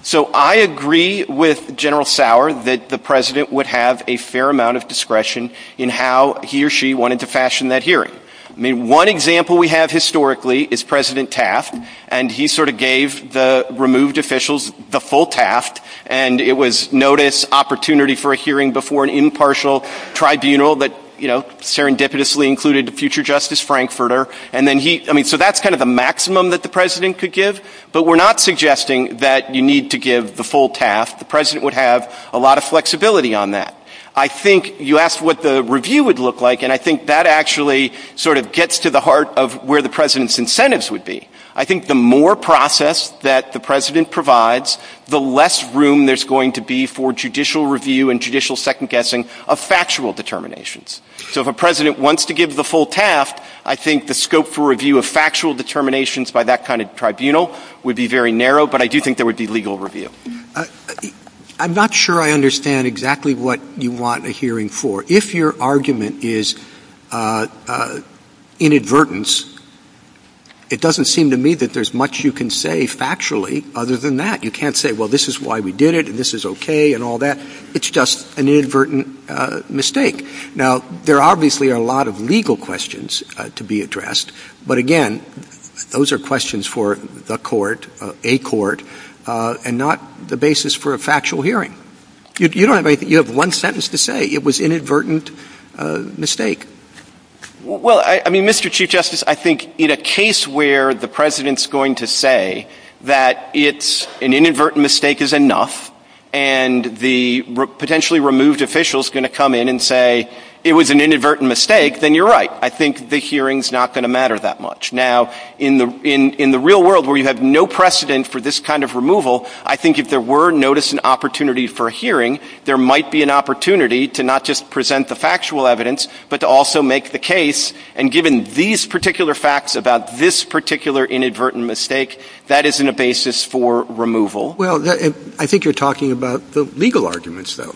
So I agree with General Sauer that the president would have a fair amount of discretion in how he or she wanted to fashion that hearing. I mean, one example we have historically is President Taft, and he sort of gave the removed officials the full Taft. And it was notice, opportunity for a hearing before an impartial tribunal that, you know, serendipitously included the future Justice Frankfurter. And then he, I mean, so that's kind of the maximum that the president could give. But we're not suggesting that you need to give the full Taft. The president would have a lot of flexibility on that. I think you asked what the review would look like, and I think that actually sort of gets to the heart of where the president's incentives would be. I think the more process that the president provides, the less room there's going to be for judicial review and judicial second-guessing of factual determinations. So if a president wants to give the full Taft, I think the scope for review of factual determinations by that kind of tribunal would be very narrow, but I do think there would be legal review. I'm not sure I understand exactly what you want a hearing for. If your argument is inadvertence, it doesn't seem to me that there's much you can say factually other than that. You can't say, well, this is why we did it, and this is okay, and all that. It's just an inadvertent mistake. Now, there obviously are a lot of legal questions to be addressed. But again, those are questions for the court, a court, and not the basis for a factual hearing. You don't have anything. You have one sentence to say. It was inadvertent mistake. Well, I mean, Mr. Chief Justice, I think in a case where the president's going to say that it's an inadvertent mistake is enough, and the potentially removed official's going to come in and say it was an inadvertent mistake, then you're right. I think the hearing's not going to matter that much. Now, in the real world where you have no precedent for this kind of removal, I think if there were notice and opportunity for a hearing, there might be an opportunity to not just present the factual evidence, but to also make the case. And given these particular facts about this particular inadvertent mistake, that isn't a basis for removal. Well, I think you're talking about the legal arguments, though,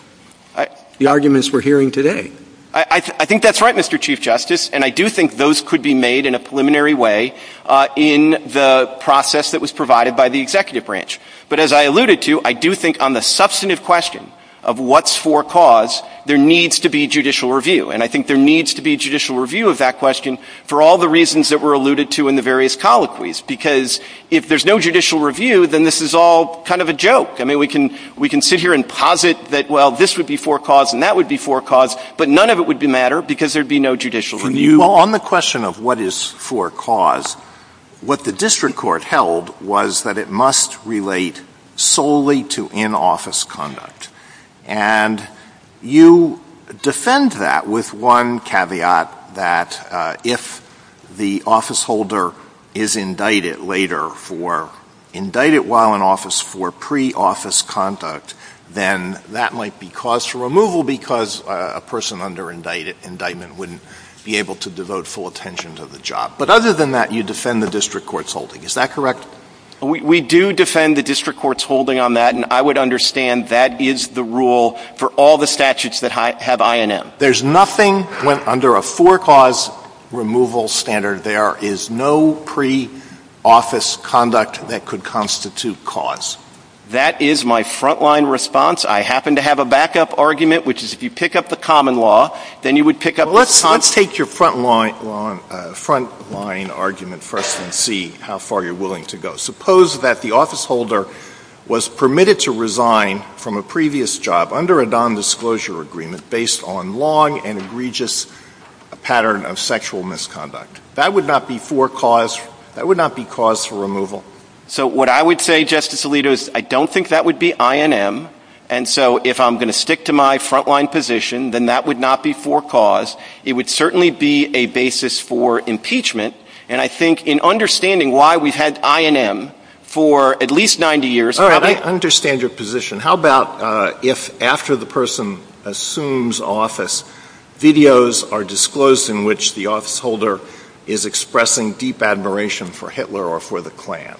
the arguments we're hearing today. I think that's right, Mr. Chief Justice. And I do think those could be made in a preliminary way in the process that was provided by the executive branch. But as I alluded to, I do think on the substantive question of what's for cause, there needs to be judicial review. And I think there needs to be judicial review of that question for all the reasons that were alluded to in the various colloquies. Because if there's no judicial review, then this is all kind of a joke. I mean, we can sit here and posit that, well, this would be for cause and that would be for cause, but none of it would matter because there'd be no judicial review. Well, on the question of what is for cause, what the district court held was that it must relate solely to in-office conduct. And you defend that with one caveat that if the officeholder is indicted later for, indicted while in office for pre-office conduct, then that might be cause for removal because a person under indictment wouldn't be able to devote full attention to the job. But other than that, you defend the district court's holding. Is that correct? We do defend the district court's holding on that. And I would understand that is the rule for all the statutes that have INM. There's nothing under a for cause removal standard. There is no pre-office conduct that could constitute cause. That is my frontline response. I happen to have a backup argument, which is if you pick up the common law, then you would pick up the common law. Well, let's take your frontline argument first and see how far you're willing to go. Suppose that the officeholder was permitted to resign from a previous job under a nondisclosure agreement based on long and egregious pattern of sexual misconduct. That would not be for cause. That would not be cause for removal. So what I would say, Justice Alito, is I don't think that would be INM. And so if I'm going to stick to my frontline position, then that would not be for cause. It would certainly be a basis for impeachment. And I think in understanding why we've had INM for at least 90 years. I understand your position. How about if after the person assumes office, videos are disclosed in which the officeholder is expressing deep admiration for Hitler or for the Klan?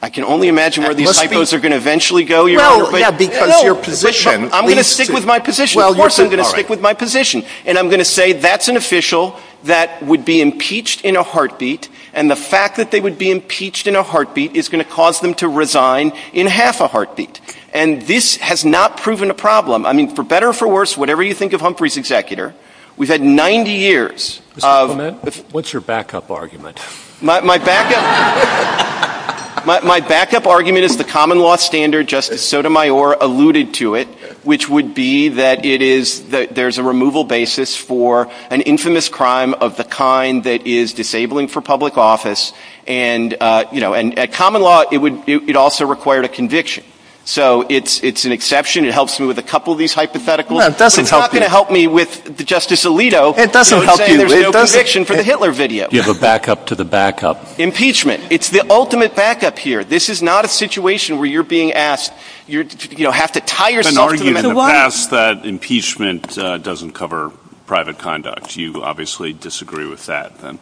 I can only imagine where these psychos are going to eventually go. No, because your position. I'm going to stick with my position. Of course I'm going to stick with my position. And I'm going to say that's an official that would be impeached in a heartbeat. And the fact that they would be impeached in a heartbeat is going to cause them to resign in half a heartbeat. And this has not proven a problem. I mean, for better or for worse, whatever you think of Humphrey's executor, we've had 90 years of. What's your backup argument? My backup argument is the common law standard, just as Sotomayor alluded to it, which would be that it is that there's a removal basis for an infamous crime of the kind that is disabling for public office. And, you know, and a common law, it would, it also required a conviction. So it's an exception. It helps me with a couple of these hypothetical. It's not going to help me with Justice Alito saying there's no conviction for the Hitler video. Give a backup to the backup. It's the ultimate backup here. This is not a situation where you're being asked, you know, have to tie yourself to the line. It's been argued in the past that impeachment doesn't cover private conduct. You obviously disagree with that, then?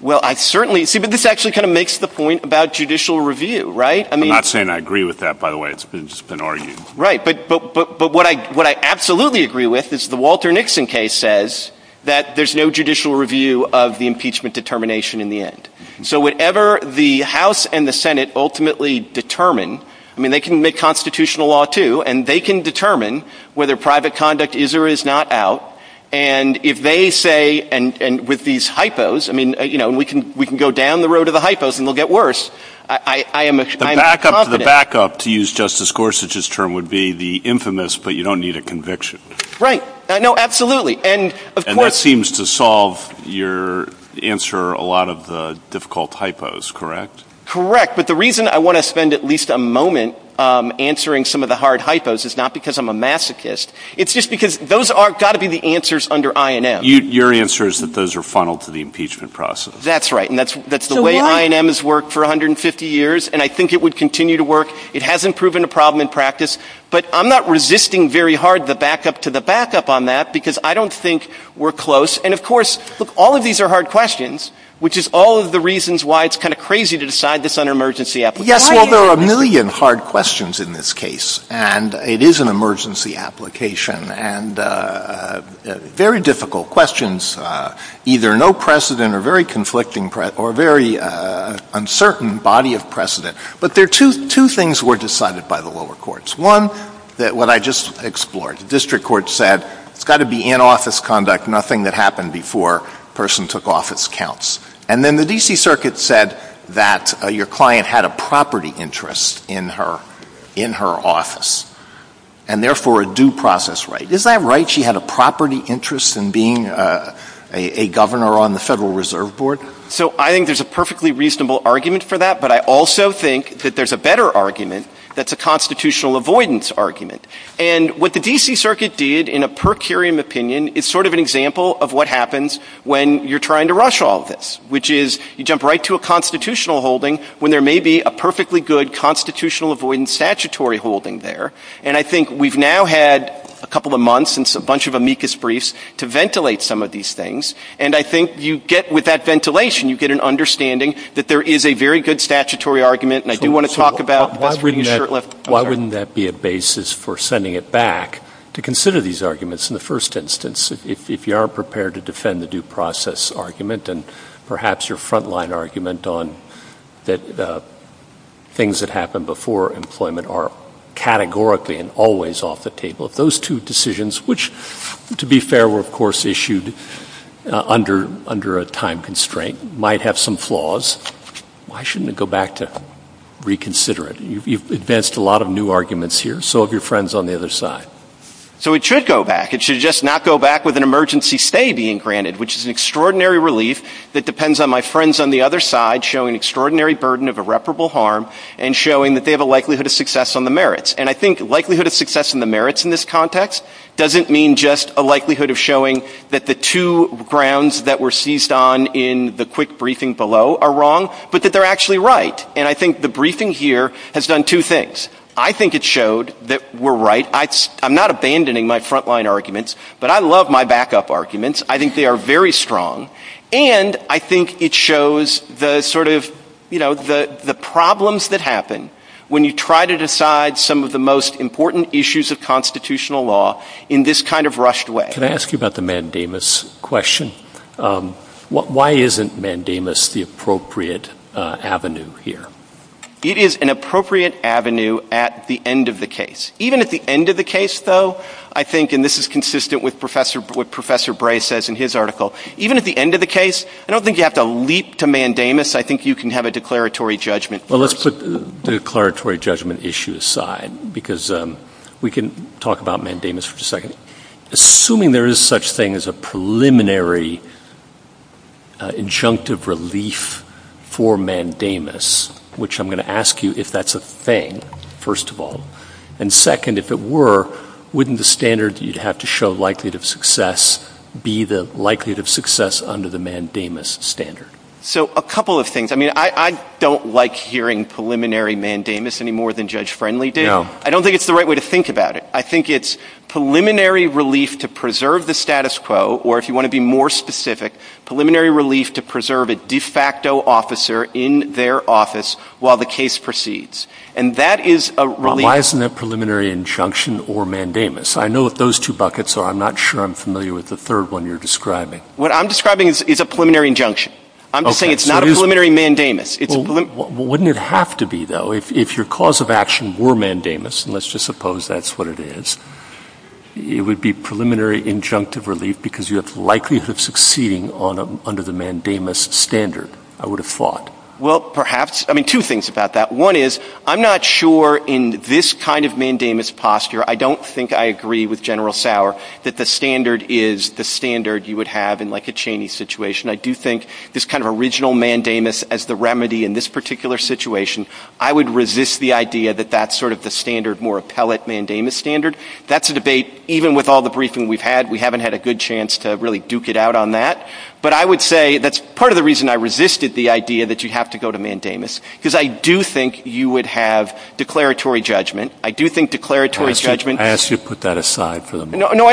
Well, I certainly, see, but this actually kind of makes the point about judicial review, right? I'm not saying I agree with that, by the way. It's been argued. Right. But, but, but what I, what I absolutely agree with is the Walter Nixon case says that there's no judicial review of the impeachment determination in the end. So whatever the House and the Senate ultimately determine, I mean, they can make constitutional law too, and they can determine whether private conduct is or is not out, and if they say, and, and with these hypos, I mean, you know, we can, we can go down the road of the hypos, and we'll get worse. I, I, I am a, I'm a confident. The backup, to use Justice Gorsuch's term, would be the infamous, but you don't need a conviction. Right. No, absolutely. And of course. And that seems to solve your answer, a lot of the difficult hypos, correct? Correct. But the reason I want to spend at least a moment answering some of the hard hypos is not because I'm a masochist. It's just because those are, got to be the answers under INM. You, your answer is that those are funneled to the impeachment process. That's right. And that's, that's the way INM has worked for 150 years, and I think it would continue to work. It hasn't proven a problem in practice, but I'm not resisting very hard the backup to the backup on that, because I don't think we're close. And of course, look, all of these are hard questions, which is all of the reasons why it's kind of crazy to decide this on an emergency application. Yes, well, there are a million hard questions in this case, and it is an emergency application, and very difficult questions. Either no precedent or very conflicting, or very uncertain body of precedent. But there are two things were decided by the lower courts. One, that what I just explored. The district court said, it's got to be in-office conduct, nothing that happened before a person took office counts. And then the D.C. Circuit said that your client had a property interest in her, in her office. And therefore, a due process right. Is that right? She had a property interest in being a governor on the Federal Reserve Board? So I think there's a perfectly reasonable argument for that. But I also think that there's a better argument that's a constitutional avoidance argument. And what the D.C. Circuit did in a per curiam opinion is sort of an example of what happens when you're trying to rush all of this, which is you jump right to a constitutional holding when there may be a perfectly good constitutional avoidance statutory holding there. And I think we've now had a couple of months and a bunch of amicus briefs to ventilate some of these things. And I think you get with that ventilation, you get an understanding that there is a very good statutory argument. And I do want to talk about. Why wouldn't that be a basis for sending it back to consider these arguments in the first instance, if you aren't prepared to defend the due process argument and perhaps your frontline argument on the things that happened before employment are categorically and always off the table? If those two decisions, which to be fair were of course issued under a time constraint, might have some flaws, why shouldn't it go back to reconsider it? You've advanced a lot of new arguments here. So have your friends on the other side. So it should go back. It should just not go back with an emergency stay being granted, which is an extraordinary relief that depends on my friends on the other side showing extraordinary burden of irreparable harm and showing that they have a likelihood of success on the merits. And I think likelihood of success in the merits in this context doesn't mean just a likelihood of showing that the two grounds that were seized on in the quick briefing below are wrong, but that they're actually right. And I think the briefing here has done two things. I think it showed that we're right. I'm not abandoning my frontline arguments, but I love my backup arguments. I think they are very strong. And I think it shows the sort of, you know, the problems that happen when you try to decide some of the most important issues of constitutional law in this kind of rushed way. Can I ask you about the mandamus question? Why isn't mandamus the appropriate avenue here? It is an appropriate avenue at the end of the case. Even at the end of the case though, I think, and this is consistent with what Professor Bray says in his article. Even at the end of the case, I don't think you have to leap to mandamus. I think you can have a declaratory judgment. Well, let's put the declaratory judgment issue aside because we can talk about mandamus for a second. Assuming there is such thing as a preliminary injunctive relief for mandamus, which I'm going to ask you if that's a thing, first of all. And second, if it were, wouldn't the standard you'd have to show likelihood of success be the likelihood of success under the mandamus standard? So, a couple of things. I mean, I don't like hearing preliminary mandamus any more than Judge Friendly did. No. I don't think it's the right way to think about it. I think it's preliminary relief to preserve the status quo, or if you want to be more specific, preliminary relief to preserve a de facto officer in their office while the case proceeds. And that is a relief. Well, why isn't it preliminary injunction or mandamus? I know what those two buckets are. I'm not sure I'm familiar with the third one you're describing. What I'm describing is a preliminary injunction. I'm just saying it's not a preliminary mandamus. Well, wouldn't it have to be, though, if your cause of action were mandamus, and let's just suppose that's what it is, it would be preliminary injunctive relief because you have likelihood of succeeding under the mandamus standard, I would have thought. Well, perhaps. I mean, two things about that. One is I'm not sure in this kind of mandamus posture, I don't think I agree with General Sauer that the standard is the standard you would have in like a Cheney situation. I do think this kind of original mandamus as the remedy in this particular situation, I would resist the idea that that's sort of the standard, more appellate mandamus standard. That's a debate, even with all the briefing we've had, we haven't had a good chance to really duke it out on that. But I would say that's part of the reason I resisted the idea that you have to go to mandamus because I do think you would have declaratory judgment. I do think declaratory judgment. I ask you to put that aside for the moment. No,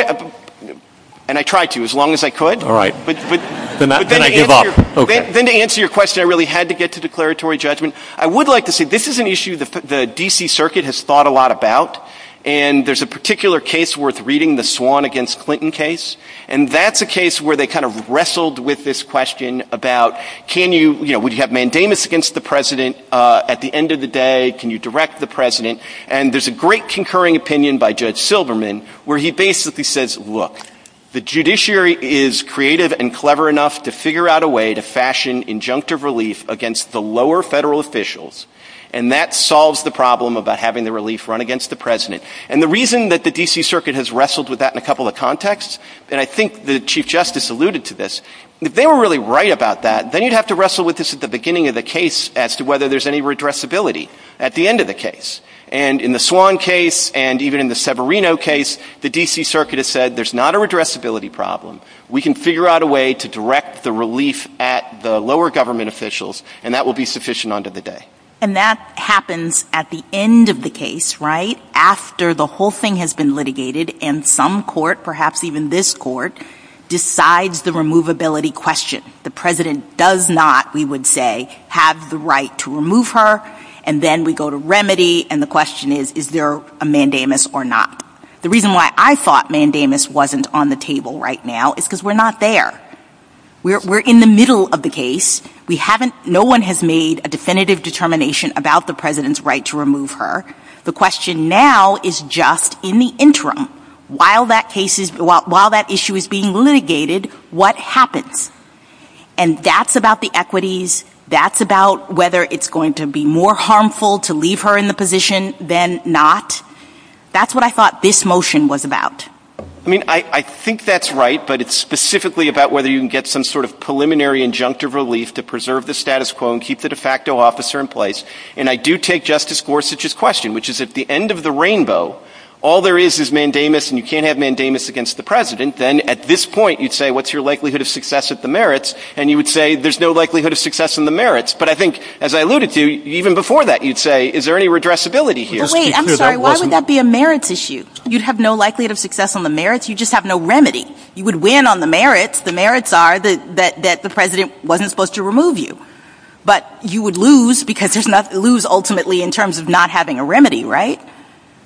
and I tried to, as long as I could. All right. But then to answer your question, I really had to get to declaratory judgment. I would like to say this is an issue the D.C. Circuit has thought a lot about, and there's a particular case worth reading, the Swan against Clinton case, and that's a case where they kind of wrestled with this question about can you, you know, do you have mandamus against the president at the end of the day? Can you direct the president? And there's a great concurring opinion by Judge Silverman where he basically says, look, the judiciary is creative and clever enough to figure out a way to fashion injunctive relief against the lower federal officials, and that solves the problem about having the relief run against the president. And the reason that the D.C. Circuit has wrestled with that in a couple of contexts, and I think the Chief Justice alluded to this, they were really right about that. Then you'd have to wrestle with this at the beginning of the case as to whether there's any redressability at the end of the case. And in the Swan case and even in the Severino case, the D.C. Circuit has said there's not a redressability problem. We can figure out a way to direct the relief at the lower government officials, and that will be sufficient under the day. And that happens at the end of the case, right, after the whole thing has been litigated, and some court, perhaps even this court, decides the removability question. The president does not, we would say, have the right to remove her, and then we go to remedy, and the question is, is there a mandamus or not? The reason why I thought mandamus wasn't on the table right now is because we're not there. We're in the middle of the case. We haven't, no one has made a definitive determination about the president's right to remove her. The question now is just in the interim, while that issue is being litigated, what happens? And that's about the equities, that's about whether it's going to be more harmful to leave her in the position than not. That's what I thought this motion was about. I mean, I think that's right, but it's specifically about whether you can get some sort of preliminary injunctive relief to preserve the status quo and keep the de facto officer in place, and I do take Justice Gorsuch's question, which is at the end of the rainbow, all there is is mandamus, and you can't have mandamus against the president. Then at this point, you'd say, what's your likelihood of success at the merits? And you would say, there's no likelihood of success in the merits. But I think, as I alluded to, even before that, you'd say, is there any redressability here? Wait, I'm sorry, why would that be a merits issue? You'd have no likelihood of success on the merits, you'd just have no remedy. You would win on the merits, the merits are that the president wasn't supposed to remove you. But you would lose because there's nothing to lose ultimately in terms of not having a remedy, right?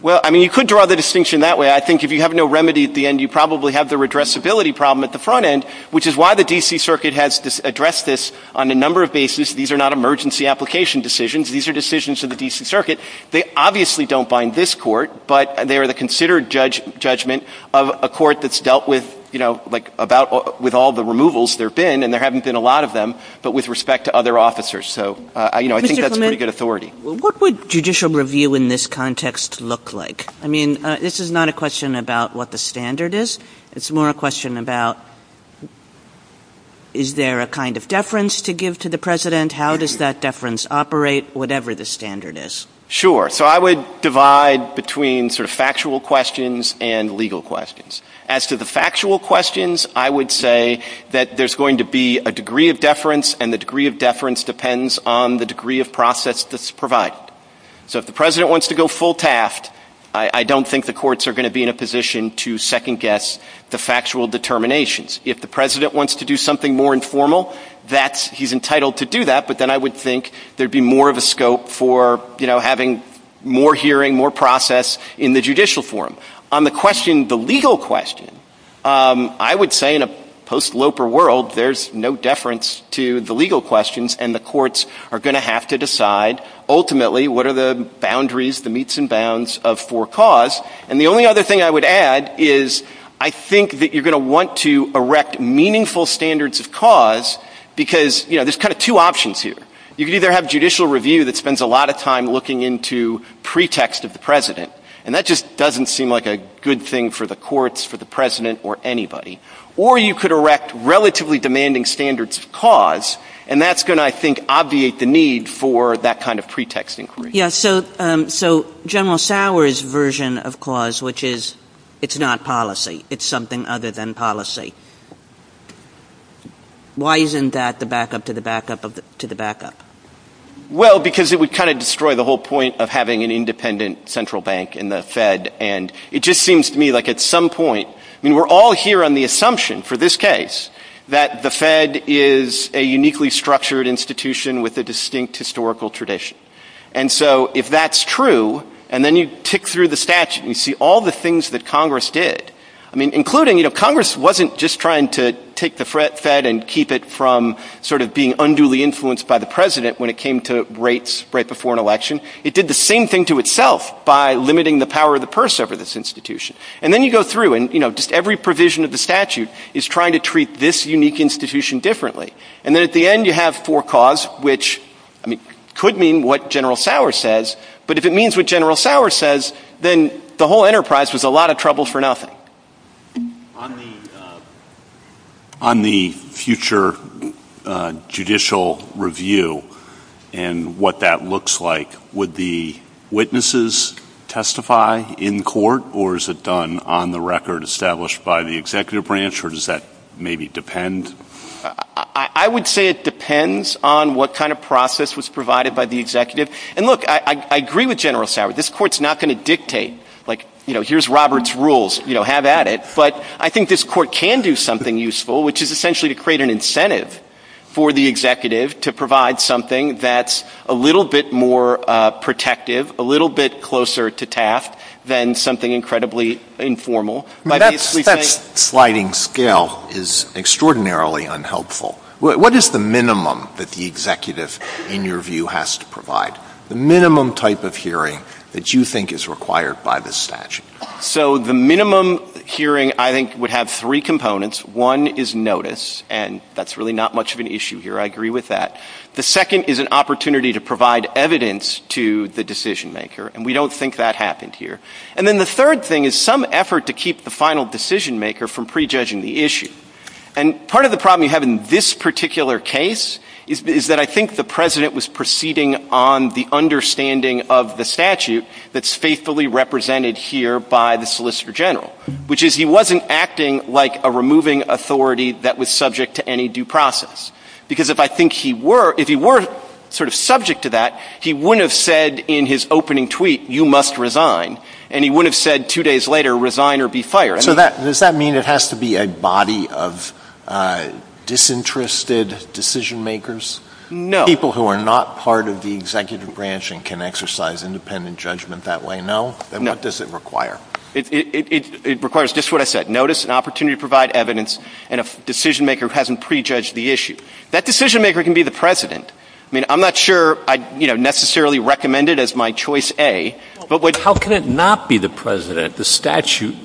Well, I mean, you could draw the distinction that way. I think if you have no remedy at the end, you probably have the redressability problem at the front end, which is why the D.C. Circuit has addressed this on a number of bases. These are not emergency application decisions. These are decisions of the D.C. Circuit. They obviously don't bind this court, but they are the considered judgment of a court that's dealt with, you know, like about with all the removals there have been, and there haven't been a lot of them, but with respect to other officers. So, you know, I think that's pretty good authority. What would judicial review in this context look like? I mean, this is not a question about what the standard is. It's more a question about is there a kind of deference to give to the president? How does that deference operate, whatever the standard is? Sure. So I would divide between sort of factual questions and legal questions. As to the factual questions, I would say that there's going to be a degree of deference, and the degree of deference depends on the degree of process that's provided. So if the president wants to go full taft, I don't think the courts are going to be in a position to second guess the factual determinations. If the president wants to do something more informal, that's, he's entitled to do that, but then I would think there'd be more of a scope for, you know, having more hearing, more process in the judicial forum. On the question, the legal question, I would say in a post-Loper world, there's no deference to the legal questions, and the courts are going to have to decide, ultimately, what are the boundaries, the meets and bounds of for cause. And the only other thing I would add is I think that you're going to want to erect meaningful standards of cause because, you know, there's kind of two options here. You can either have judicial review that spends a lot of time looking into pretext of the president, and that just doesn't seem like a good thing for the courts, for the president, or anybody. Or you could erect relatively demanding standards of cause, and that's going to, I think, obviate the need for that kind of pretext inquiry. Yes, so General Sauer's version of cause, which is, it's not policy. It's something other than policy. Why isn't that the backup to the backup to the backup? Well, because it would kind of destroy the whole point of having an independent central bank in the Fed, and it just seems to me like at some point, I mean, we're all here on the assumption for this case that the Fed is a uniquely structured institution with a distinct historical tradition. And so if that's true, and then you tick through the statute, and you see all the things that Congress did, I mean, including, you know, Congress wasn't just trying to take the Fed and keep it from sort of being unduly influenced by the president when it came to rates right before an election. It did the same thing to itself by limiting the power of the purse over this institution. And then you go through, and, you know, just every provision of the statute is trying to treat this unique institution differently. And then at the end, you have four cause, which, I mean, could mean what General Sauer says, but if it means what General Sauer says, then the whole enterprise was a lot of trouble for nothing. On the future judicial review, and what that looks like, would the witnesses testify in court, or is it done on the record established by the executive branch, or does that maybe depend? I would say it depends on what kind of process was provided by the executive. And look, I agree with General Sauer. This court's not going to dictate, like, you know, here's Robert's rules, you know, have at it. But I think this court can do something useful, which is essentially to create an incentive for the executive to provide something that's a little bit more protective, a little bit closer to task, than something incredibly informal. That sliding scale is extraordinarily unhelpful. What is the minimum that the executive, in your view, has to provide? The minimum type of hearing that you think is required by the statute? So the minimum hearing, I think, would have three components. One is notice, and that's really not much of an issue here. I agree with that. The second is an opportunity to provide evidence to the decision maker. And we don't think that happened here. And then the third thing is some effort to keep the final decision maker from prejudging the issue. And part of the problem you have in this particular case is that I think the President was proceeding on the understanding of the statute that's faithfully represented here by the Solicitor General, which is he wasn't acting like a removing authority that was subject to any due process. Because if I think he were, if he were sort of subject to that, he wouldn't have said in his opening tweet, you must resign. And he wouldn't have said two days later, resign or be fired. So does that mean it has to be a body of disinterested decision makers? No. People who are not part of the executive branch and can exercise independent judgment that way, no? No. And what does it require? It requires just what I said. Notice, an opportunity to provide evidence, and a decision maker who hasn't prejudged the issue. That decision maker can be the President. I mean, I'm not sure I'd, you know, necessarily recommend it as my choice A. But how can it not be the President? The statute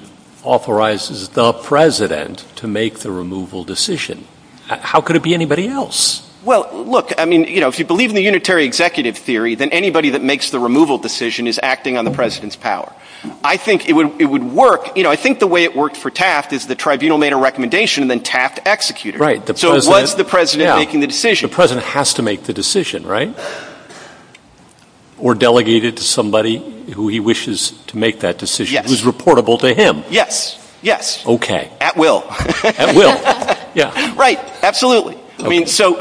authorizes the President to make the removal decision. How could it be anybody else? Well, look, I mean, you know, if you believe in the unitary executive theory, then anybody that makes the removal decision is acting on the President's power. I think it would work, you know, I think the way it worked for Taft is the tribunal made a recommendation, then Taft executed it. Right. So it was the President making the decision. The President has to make the decision, right? Or delegated to somebody who he wishes to make that decision, who's reportable to him. Yes. Yes. OK. At will. At will. Yeah. Right. Absolutely. I mean, so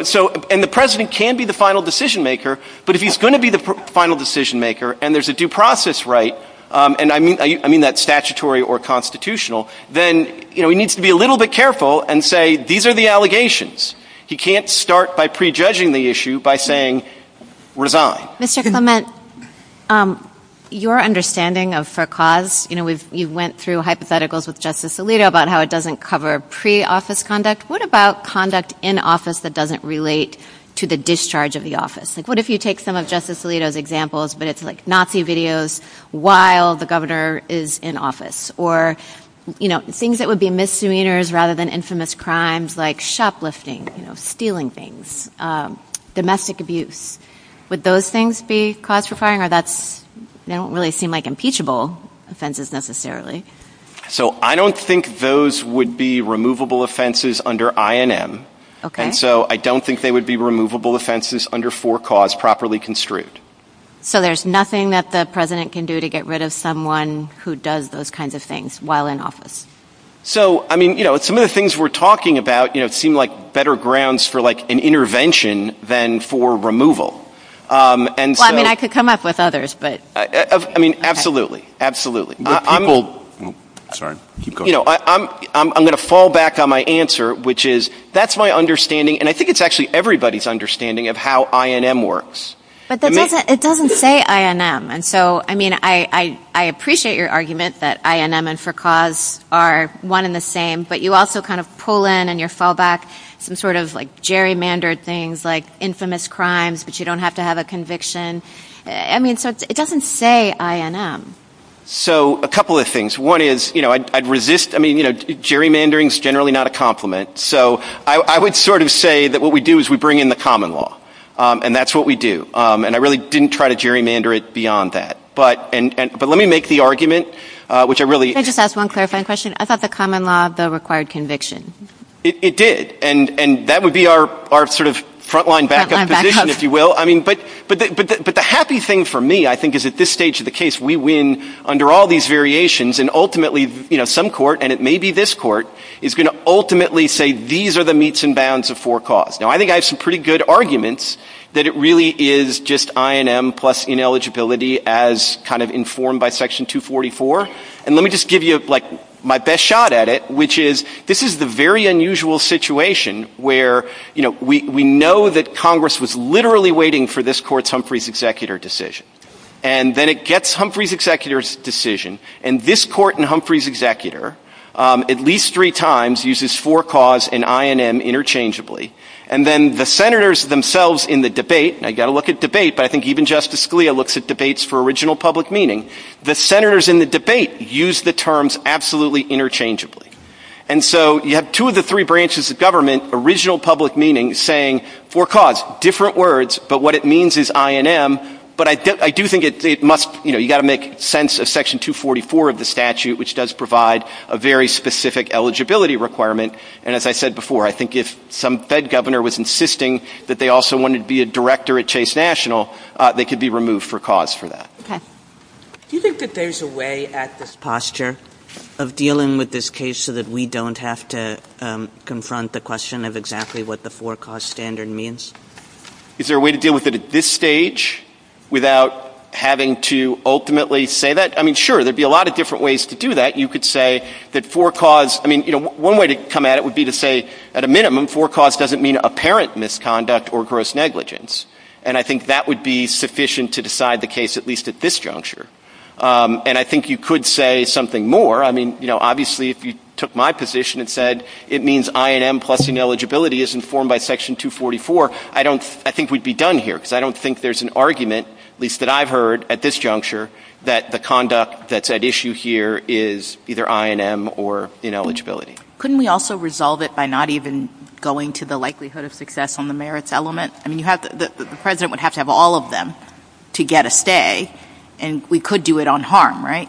and the President can be the final decision maker. But if he's going to be the final decision maker and there's a due process, right. And I mean, I mean, that's statutory or constitutional. Then, you know, he needs to be a little bit careful and say, these are the allegations. He can't start by prejudging the issue by saying resign. Mr. Clement, your understanding of for cause, you know, you went through hypotheticals with Justice Alito about how it doesn't cover pre office conduct. What about conduct in office that doesn't relate to the discharge of the office? Like what if you take some of Justice Alito's examples, but it's like Nazi videos while the governor is in office or, you know, things that would be misdemeanors rather than infamous crimes like shoplifting, stealing things, domestic abuse. Would those things be classifying or that's they don't really seem like impeachable offenses necessarily. So I don't think those would be removable offenses under INM. OK. And so I don't think they would be removable offenses under for cause properly construed. So there's nothing that the president can do to get rid of someone who does those kinds of things while in office. So, I mean, you know, some of the things we're talking about, you know, seem like better grounds for like an intervention than for removal. And I mean, I could come up with others, but I mean, absolutely. Absolutely. People. Sorry. You know, I'm I'm going to fall back on my answer, which is that's my understanding. And I think it's actually everybody's understanding of how INM works. But it doesn't say INM. And so, I mean, I I appreciate your argument that INM and for cause are one in the same, but you also kind of pull in and your fall back some sort of like gerrymandered things like infamous crimes, but you don't have to have a conviction. I mean, so it doesn't say INM. So a couple of things. One is, you know, I'd resist. I mean, you know, gerrymandering is generally not a compliment. So I would sort of say that what we do is we bring in the common law. And that's what we do. And I really didn't try to gerrymander it beyond that. But and but let me make the argument, which I really just ask one clarifying question about the common law of the required conviction. It did. And and that would be our our sort of frontline backup, if you will. I mean, but but but the happy thing for me, I think, is at this stage of the case, we win under all these variations and ultimately, you know, some court and it may be this court is going to ultimately say these are the meets and bounds of for cause. Now, I think I have some pretty good arguments that it really is just INM plus ineligibility as kind of informed by Section 244. And let me just give you like my best shot at it, which is this is the very unusual situation where, you know, we know that Congress was literally waiting for this court's Humphrey's executor decision and then it gets Humphrey's executor's decision. And this court and Humphrey's executor at least three times uses for cause and INM interchangeably. And then the senators themselves in the debate, I got to look at debate. But I think even Justice Scalia looks at debates for original public meaning. The senators in the debate use the terms absolutely interchangeably. And so you have two of the three branches of government, original public meaning saying for cause, different words. But what it means is INM. But I do think it must you know, you got to make sense of Section 244 of the statute, which does provide a very specific eligibility requirement. And as I said before, I think if some Fed governor was insisting that they also wanted to be a director at Chase National, they could be removed for cause for that. Do you think that there's a way at this posture of dealing with this case so that we don't have to confront the question of exactly what the for cause standard means? Is there a way to deal with it at this stage without having to ultimately say that? I mean, sure, there'd be a lot of different ways to do that. You could say that for cause. I mean, you know, one way to come at it would be to say at a minimum for cause doesn't mean apparent misconduct or gross negligence. And I think that would be sufficient to decide the case, at least at this juncture. And I think you could say something more. I mean, you know, obviously, if you took my position and said it means INM plus ineligibility is informed by Section 244. I don't I think we'd be done here because I don't think there's an argument, at least that I've heard at this juncture, that the conduct that's at issue here is either INM or ineligibility. Couldn't we also resolve it by not even going to the likelihood of success on the merits element? I mean, you have the president would have to have all of them to get a stay and we could do it on harm, right?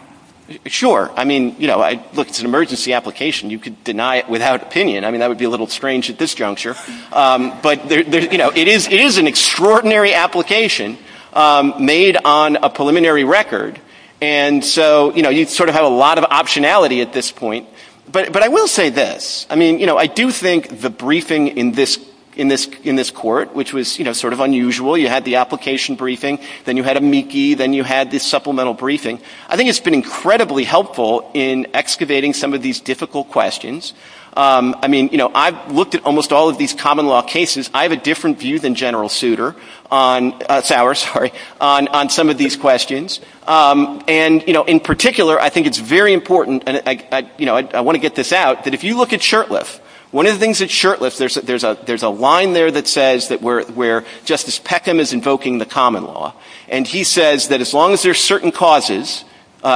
Sure. I mean, you know, I looked at an emergency application. You could deny it without opinion. I mean, that would be a little strange at this juncture. But, you know, it is it is an extraordinary application made on a preliminary record. And so, you know, you sort of have a lot of optionality at this point. But but I will say this. I mean, you know, I do think the briefing in this in this in this court, which was, you know, sort of unusual, you had the application briefing, then you had a meekie, then you had this supplemental briefing. I think it's been incredibly helpful in excavating some of these difficult questions. I mean, you know, I've looked at almost all of these common law cases. I have a different view than General Souter on Sauer, sorry, on on some of these questions. And, you know, in particular, I think it's very important. And, you know, I want to get this out that if you look at Shurtleff, one of the things that Shurtleff there's that there's a there's a line there that says that we're where Justice Peckham is invoking the common law. And he says that as long as there are certain causes,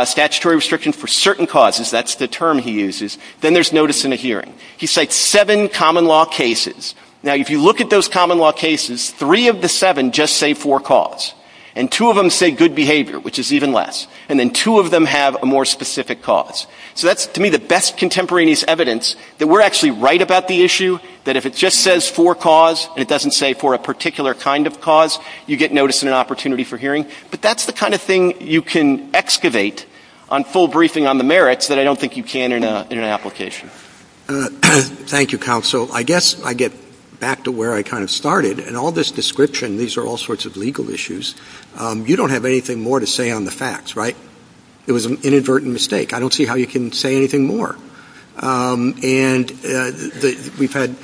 statutory restriction for certain causes, that's the term he uses. Then there's notice in a hearing. He said seven common law cases. Now, if you look at those common law cases, three of the seven just say four calls. And two of them say good behavior, which is even less. And then two of them have a more specific cause. So that's to me the best contemporaneous evidence that we're actually right about the issue, that if it just says four calls and it doesn't say for a particular kind of cause, you get notice and an opportunity for hearing. But that's the kind of thing you can excavate on full briefing on the merits that I don't think you can in an application. Thank you, counsel. I guess I get back to where I kind of started and all this description. These are all sorts of legal issues. You don't have anything more to say on the facts, right? It was an inadvertent mistake. I don't see how you can say anything more. And we've had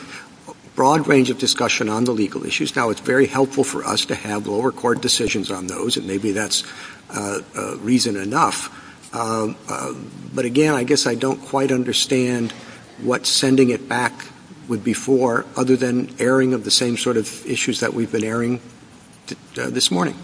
a broad range of discussion on the legal issues. Now, it's very helpful for us to have lower court decisions on those and maybe that's reason enough. But again, I guess I don't quite understand what sending it back would be for other than airing of the same sort of issues that we've been airing this morning.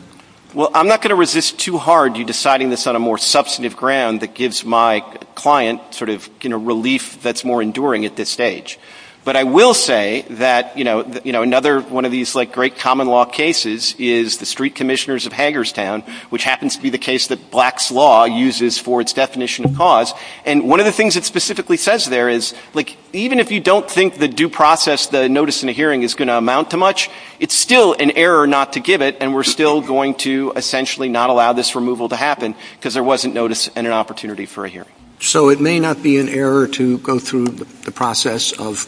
Well, I'm not going to resist too hard you deciding this on a more substantive ground that gives my client sort of, you know, relief that's more enduring at this stage. But I will say that, you know, another one of these like great common law cases is the street commissioners of Hagerstown, which happens to be the case that Black's Law uses for its definition of cause. And one of the things it specifically says there is like even if you don't think the due process, the notice and the hearing is going to amount to much, it's still an error not to give it and we're still going to essentially not allow this removal to happen because there wasn't notice and an opportunity for a hearing. So it may not be an error to go through the process of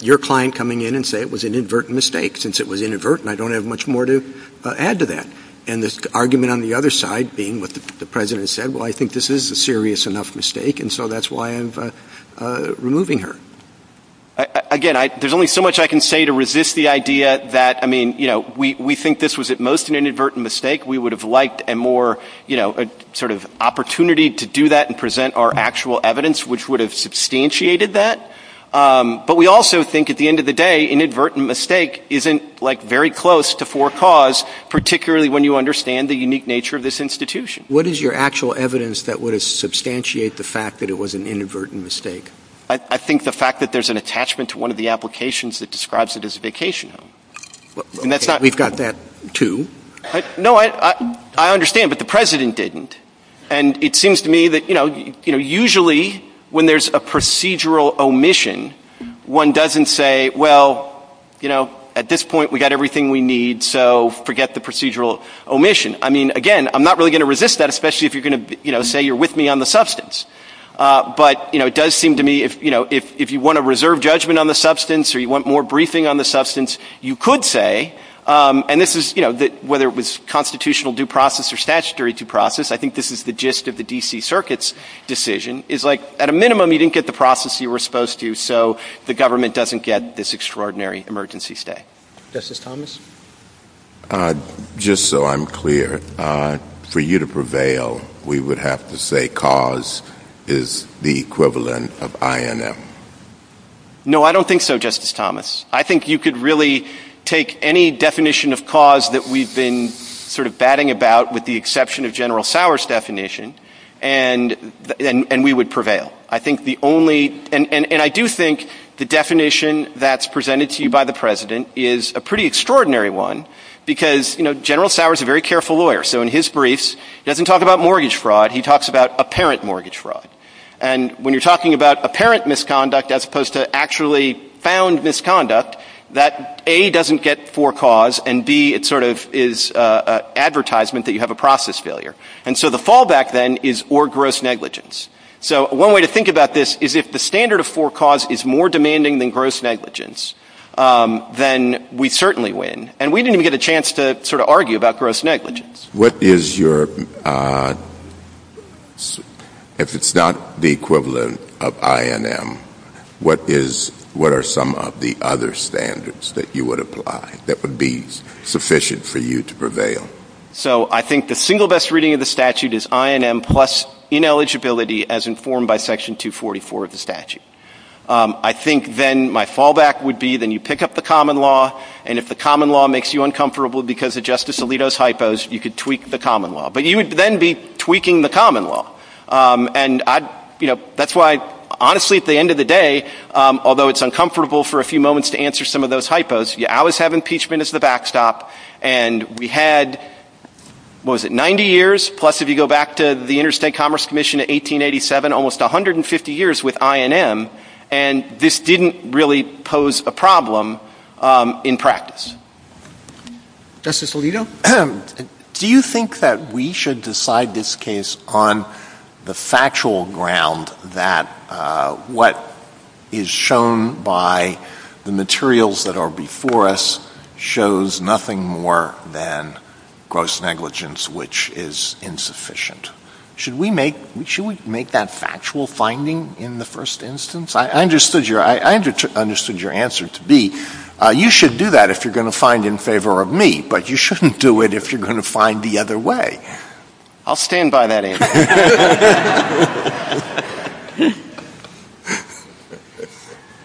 your client coming in and say it was an inadvertent mistake since it was inadvertent. I don't have much more to add to that. And this argument on the other side being what the president said, well I think this is a serious enough mistake and so that's why I'm removing her. Again, there's only so much I can say to resist the idea that, I mean, you know, we think this was at most an inadvertent mistake. We would have liked a more, you know, sort of opportunity to do that and present our actual evidence which would have substantiated that. But we also think at the end of the day, inadvertent mistake isn't like very close to forecaused particularly when you understand the unique nature of this institution. What is your actual evidence that would substantiate the fact that it was an inadvertent mistake? I think the fact that there's an attachment to one of the applications that describes it as a vacation home. And that's not... We've got that too. No, I understand but the president didn't. And it seems to me that, you know, you know, usually when there's a procedural omission, one doesn't say, well, you know, at this point we got everything we need so forget the procedural omission. I mean, again, I'm not really going to resist that especially if you're going to, you know, say you're with me on the substance. But, you know, it does seem to me, you know, if you want to reserve judgment on the substance or you want more briefing on the substance, you could say and this is, you know, that whether it was constitutional due process or statutory due process, I think this is the gist of the DC Circuit's decision is like at a minimum you didn't get the process you were supposed to so the government doesn't get this extraordinary emergency stay. Justice Thomas? Just so I'm clear, for you to prevail, we would have to say cause is the equivalent of INM. No, I don't think so, Justice Thomas. I think you could really take any definition of cause that we've been sort of batting about with the exception of General Sowers' definition and we would prevail. I think the only and I do think the definition that's presented to you by the President is a pretty extraordinary one because, you know, General Sowers is a very careful lawyer. So in his briefs, he doesn't talk about mortgage fraud, he talks about apparent mortgage fraud. And when you're talking about apparent misconduct as opposed to actually found misconduct, that A, doesn't get forecaused and B, it sort of is advertisement that you have a process failure. And so the fallback then is or gross negligence. So one way to think about this is if the standard of forecaused is more demanding than gross negligence, then we certainly win. And we didn't even get a chance to sort of argue about gross negligence. What is your, if it's not the equivalent of INM, what is, what are some of the other standards that you would apply that would be sufficient for you to prevail? So I think the single best reading of the statute is INM plus ineligibility as informed by Section 244 of the statute. I think then my fallback would be then you pick up the common law and if the common law makes you uncomfortable because of Justice Alito's hypos, you could tweak the common law. But you would then be tweaking the common law. And I, you know, that's why honestly at the end of the day, although it's uncomfortable for a few moments to answer some of those hypos, you always have impeachment as the backstop. And we had, what was it, 90 years plus if you go back to the Interstate Commerce Commission in 1887, almost 150 years with INM. And this didn't really pose a problem in practice. Justice Alito, do you think that we should decide this case on the factual ground that what is shown by the materials that are before us shows nothing more than gross negligence, which is insufficient? Should we make that factual finding in the first instance? I understood your answer to be, you should do that if you're going to find in favor of me, but you shouldn't do it if you're going to find the other way. I'll stand by that answer.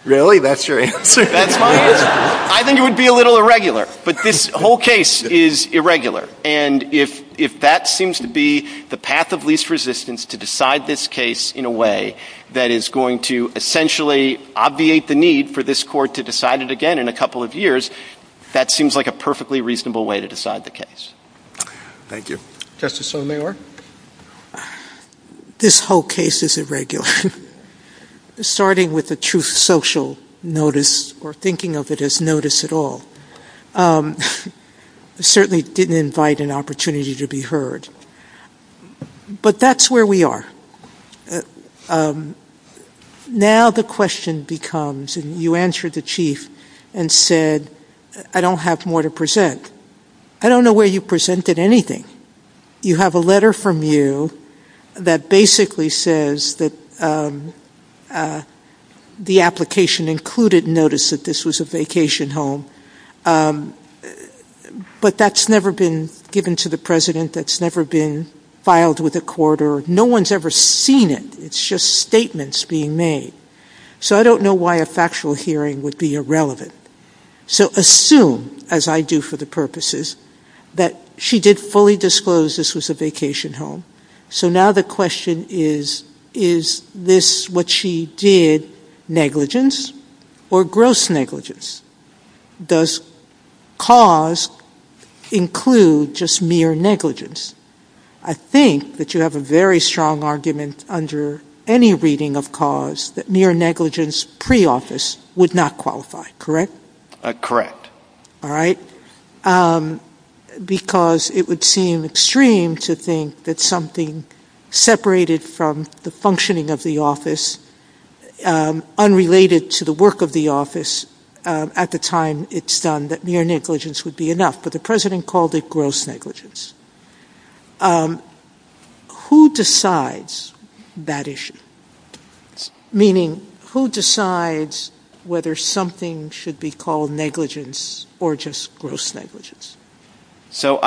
Really? That's your answer? I think it would be a little irregular. But this whole case is irregular. And if that seems to be the path of least resistance to decide this case in a way that is going to essentially obviate the need for this court to decide it again in a couple of years, that seems like a perfectly reasonable way to decide the case. Thank you. Justice O'Meara? This whole case is irregular, starting with the truth social notice or thinking of it as notice at all. Certainly didn't invite an opportunity to be heard. But that's where we are. Now the question becomes, and you answered the Chief and said, I don't have more to present. I don't know where you presented anything. You have a letter from you that basically says that the application included notice that this was a vacation home, but that's never been given to the President. That's never been filed with a court, or no one's ever seen it. It's just statements being made. So I don't know why a factual hearing would be irrelevant. So assume, as I do for the purposes, that she did fully disclose this was a vacation home. So now the question is, is this what she did negligence or gross negligence? Does cause include just mere negligence? I think that you have a very strong argument under any reading of cause that mere negligence pre-office would not qualify, correct? Correct. Alright. Because it would seem extreme to think that something separated from the functioning of the office, unrelated to the work of the office at the time it's done, that mere negligence would be enough. But the President called it gross negligence. Who decides that issue? So I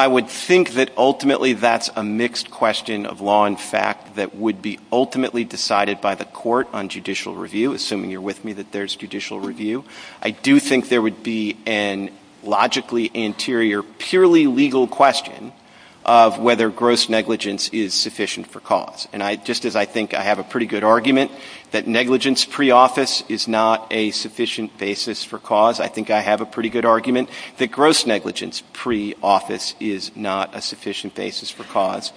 would think that ultimately that's a mixed question of law and fact that would be ultimately decided by the court on judicial review, assuming you're with me that there's judicial review. I do think there would be a logically anterior, purely legal question of whether gross negligence is sufficient for cause. And just as I think I have a pretty good argument that negligence pre-office is not a sufficient basis for cause, I think I have a pretty good argument that gross negligence pre-office is not a sufficient basis for cause.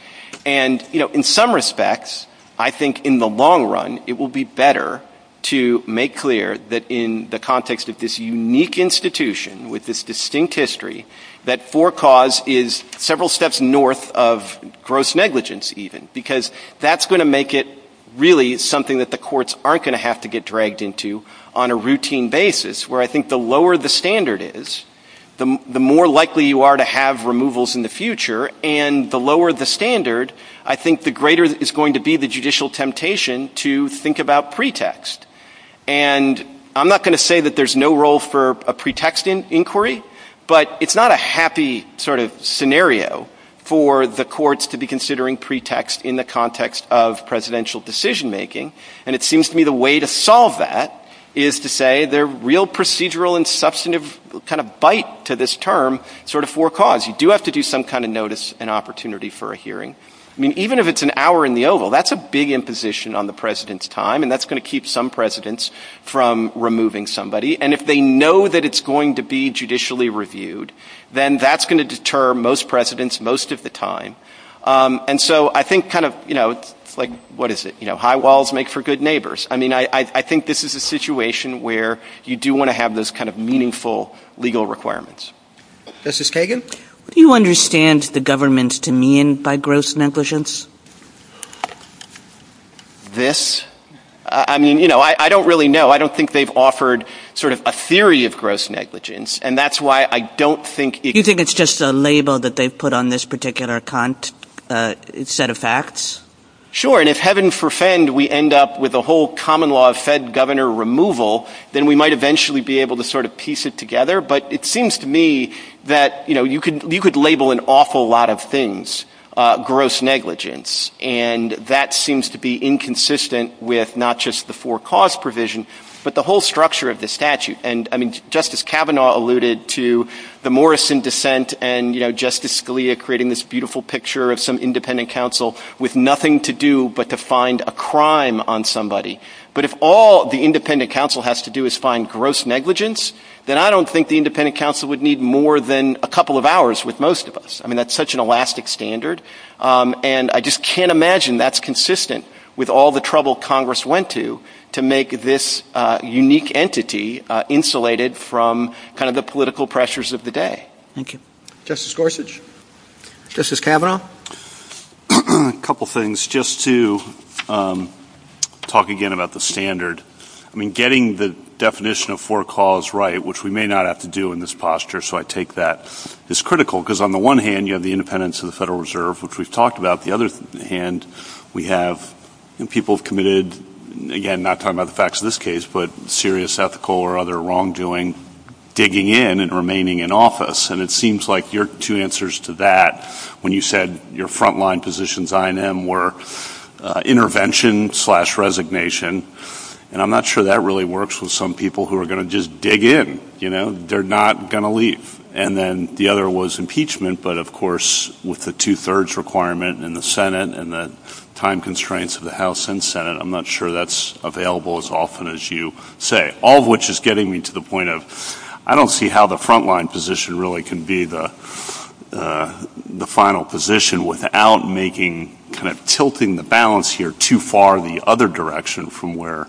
And, you know, in some respects, I think in the long run it will be better to make clear that in the context of this unique institution with this distinct history that for cause is several steps north of gross negligence even. Because that's going to make it really something that the courts aren't going to have to get dragged into on a routine basis. Where I think the lower the standard is, the more likely you are to have removals in the future, and the lower the standard, I think the greater is going to be the judicial temptation to think about pretext. And I'm not going to say that there's no role for a pretext inquiry, but it's not a happy sort of scenario for the courts to be considering pretext in the context of presidential decision making. And it seems to me the way to solve that is to say the real procedural and substantive kind of bite to this term sort of for cause. You do have to do some kind of notice and opportunity for a hearing. I mean, even if it's an hour in the oval, that's a big imposition on the president's time, and that's going to keep some presidents from removing somebody. And if they know that it's going to be judicially reviewed, then that's going to deter most presidents most of the time. And so I think kind of, you know, like what is it? You know, high walls make for good neighbors. I mean, I think this is a situation where you do want to have this kind of meaningful legal requirements. This is Kagan. Do you understand the government's demean by gross negligence? This? I mean, you know, I don't really know. I don't think they've offered sort of a theory of gross negligence, and that's why I don't think it's... Do you think it's just a label that they put on this particular set of facts? Sure. And if heaven forfend, we end up with a whole common law of Fed governor removal, then we might eventually be able to sort of piece it together. But it seems to me that, you know, you could label an awful lot of things gross negligence, and that seems to be inconsistent with not just the forecast provision, but the whole structure of the statute. And, I mean, Justice Kavanaugh alluded to the Morrison dissent, and, you know, Justice Scalia creating this beautiful picture of some independent counsel with nothing to do but to find a crime on somebody. But if all the independent counsel has to do is find gross negligence, then I don't think the independent counsel would need more than a couple of hours with most of us. I mean, that's such an elastic standard. And I just can't imagine that's consistent with all the trouble Congress went to to make this unique entity insulated from kind of the political pressures of the day. Thank you. Justice Gorsuch? Justice Kavanaugh? A couple of things. Just to talk again about the standard. I mean, getting the definition of forecalls right, which we may not have to do in this posture, so I take that as critical, because on the one hand, you have the independence of the Federal Reserve, which we've talked about. On the other hand, we have people committed, again, not talking about the facts of this case, but serious ethical or other wrongdoing, digging in and remaining in office. And it seems like your two answers to that, when you said your frontline positions, I and M, were intervention slash resignation, and I'm not sure that really works with some people who are going to just dig in, you know, they're not going to leave. And then the other was impeachment, but of course, with the two-thirds requirement in the Senate and the time constraints of the House and Senate, I'm not sure that's available as often as you say, all of which is getting me to the point of I don't see how the frontline position really can be the final position without making, kind of tilting the balance here too far the other direction from where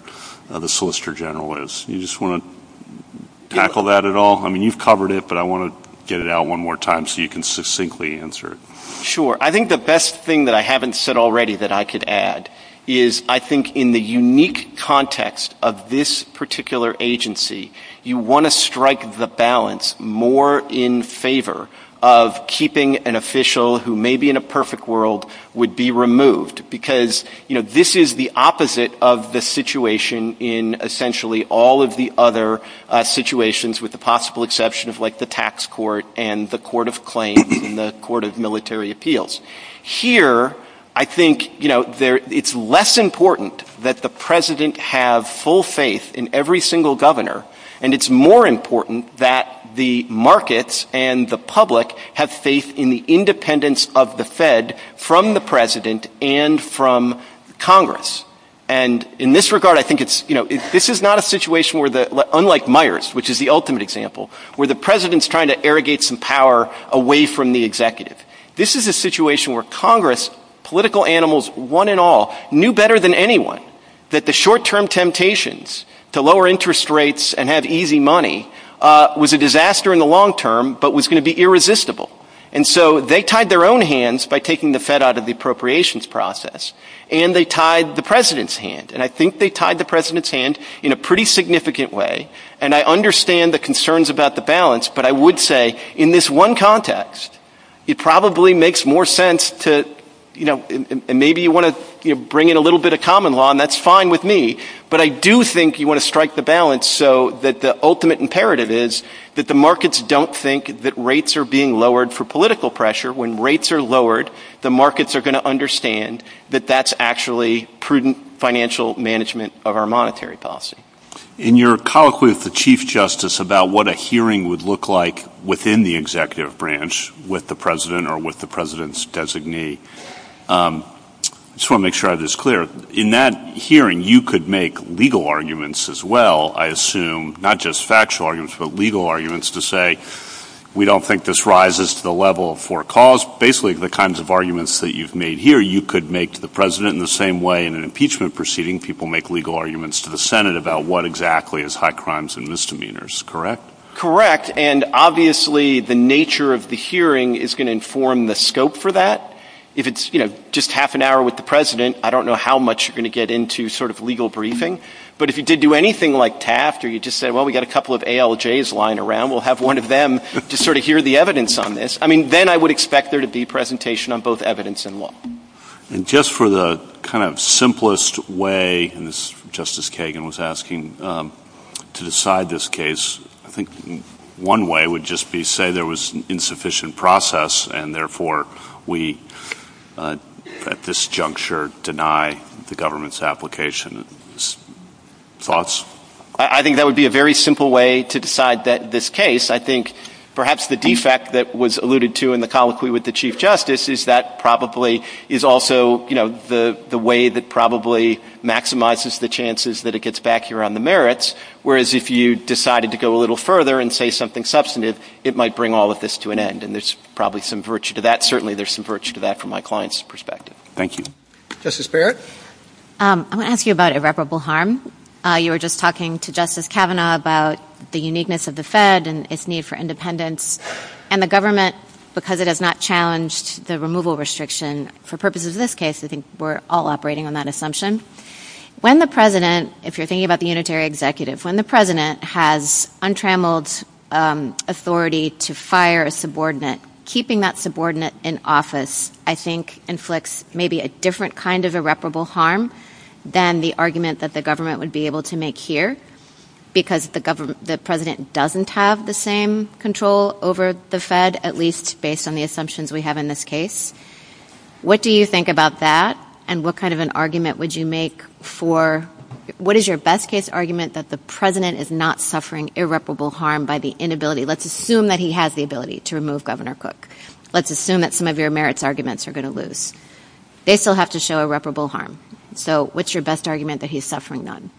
the Solicitor General is. You just want to tackle that at all? I mean, you've covered it, but I want to get it out one more time so you can succinctly answer it. Sure. I think the best thing that I haven't said already that I could add is I think in the unique context of this particular agency, you want to strike the balance more in favor of keeping an official who may be in a perfect world would be removed because, you know, this is the opposite of the situation in essentially all of the other situations with the possible exception of like the tax court and the court of claim and the court of military appeals. Here, I think, you know, it's less important that the president have full faith in every single governor and it's more important that the markets and the public have faith in the independence of the Fed from the president and from Congress. And in this regard, I think it's, you know, this is not a situation where the, unlike Myers, which is the ultimate example, where the president is trying to irrigate some power away from the executive. This is a situation where Congress, political animals, one and all, knew better than anyone that the short-term temptations to lower interest rates and have easy money was a disaster in the long term but was going to be irresistible. And so they tied their own hands by taking the Fed out of the appropriations process and they tied the president's hand. And I think they tied the president's hand in a pretty significant way and I understand the concerns about the balance but I would say in this one context, it probably makes more sense to, you know, and maybe you want to, you know, bring in a little bit of common law and that's fine with me but I do think you want to strike the balance so that the ultimate imperative is that the markets don't think that rates are being lowered for political pressure. When rates are lowered, the markets are going to understand that that's actually prudent financial management of our monetary policy. In your colloquy with the Chief Justice about what a hearing would look like within the executive branch with the president or with the president's designee, I just want to make sure I have this clear. In that hearing, you could make legal arguments as well, I assume, not just factual arguments but legal arguments to say we don't think this rises to the level for cause. Basically, the kinds of arguments that you've made here, you could make to the president in the same way in an impeachment proceeding, people make legal arguments to the Senate about what exactly is high crimes and misdemeanors, correct? Correct. And obviously, the nature of the hearing is going to inform the scope for that. If it's, you know, just half an hour with the president, I don't know how much you're going to get into sort of legal briefing. But if you did do anything like taft or you just say, well, we got a couple of ALJs lying around, we'll have one of them to sort of hear the evidence on this. I mean, then I would expect there to be presentation on both evidence and law. And just for the kind of simplest way, as Justice Kagan was asking, to decide this case, I think one way would just be say there was insufficient process and therefore, we at this juncture deny the government's application. Thoughts? I think that would be a very simple way to decide this case. I think perhaps the defect that was alluded to in the colloquy with the Chief Justice is that probably is also, you know, the way that probably maximizes the chances that it gets back here on the merits, whereas if you decided to go a little further and say something substantive, it might bring all of this to an end. And there's probably some virtue to that. Certainly, there's some virtue to that from my client's perspective. Thank you. Justice Barrett? I'm going to ask you about irreparable harm. You were just talking to Justice Kavanaugh about the uniqueness of the Fed and its need for independence, and the government, because it has not challenged the removal restriction, for purposes of this case, I think we're all operating on that assumption. When the president, if you're thinking about the unitary executive, when the president has untrammeled authority to fire a subordinate, keeping that subordinate in office, I think inflicts maybe a different kind of irreparable harm than the argument that the government would be able to make here, because the president doesn't have the same control over the Fed, at least based on the assumptions we have in this case. What do you think about that? And what kind of an argument would you make for, what is your best case argument that the president is not suffering irreparable harm by the inability, let's assume that he has the ability to remove Governor Cook, let's assume that some of your merits arguments are going to lose, they still have to show irreparable harm. So, what's your best argument that he's suffering none?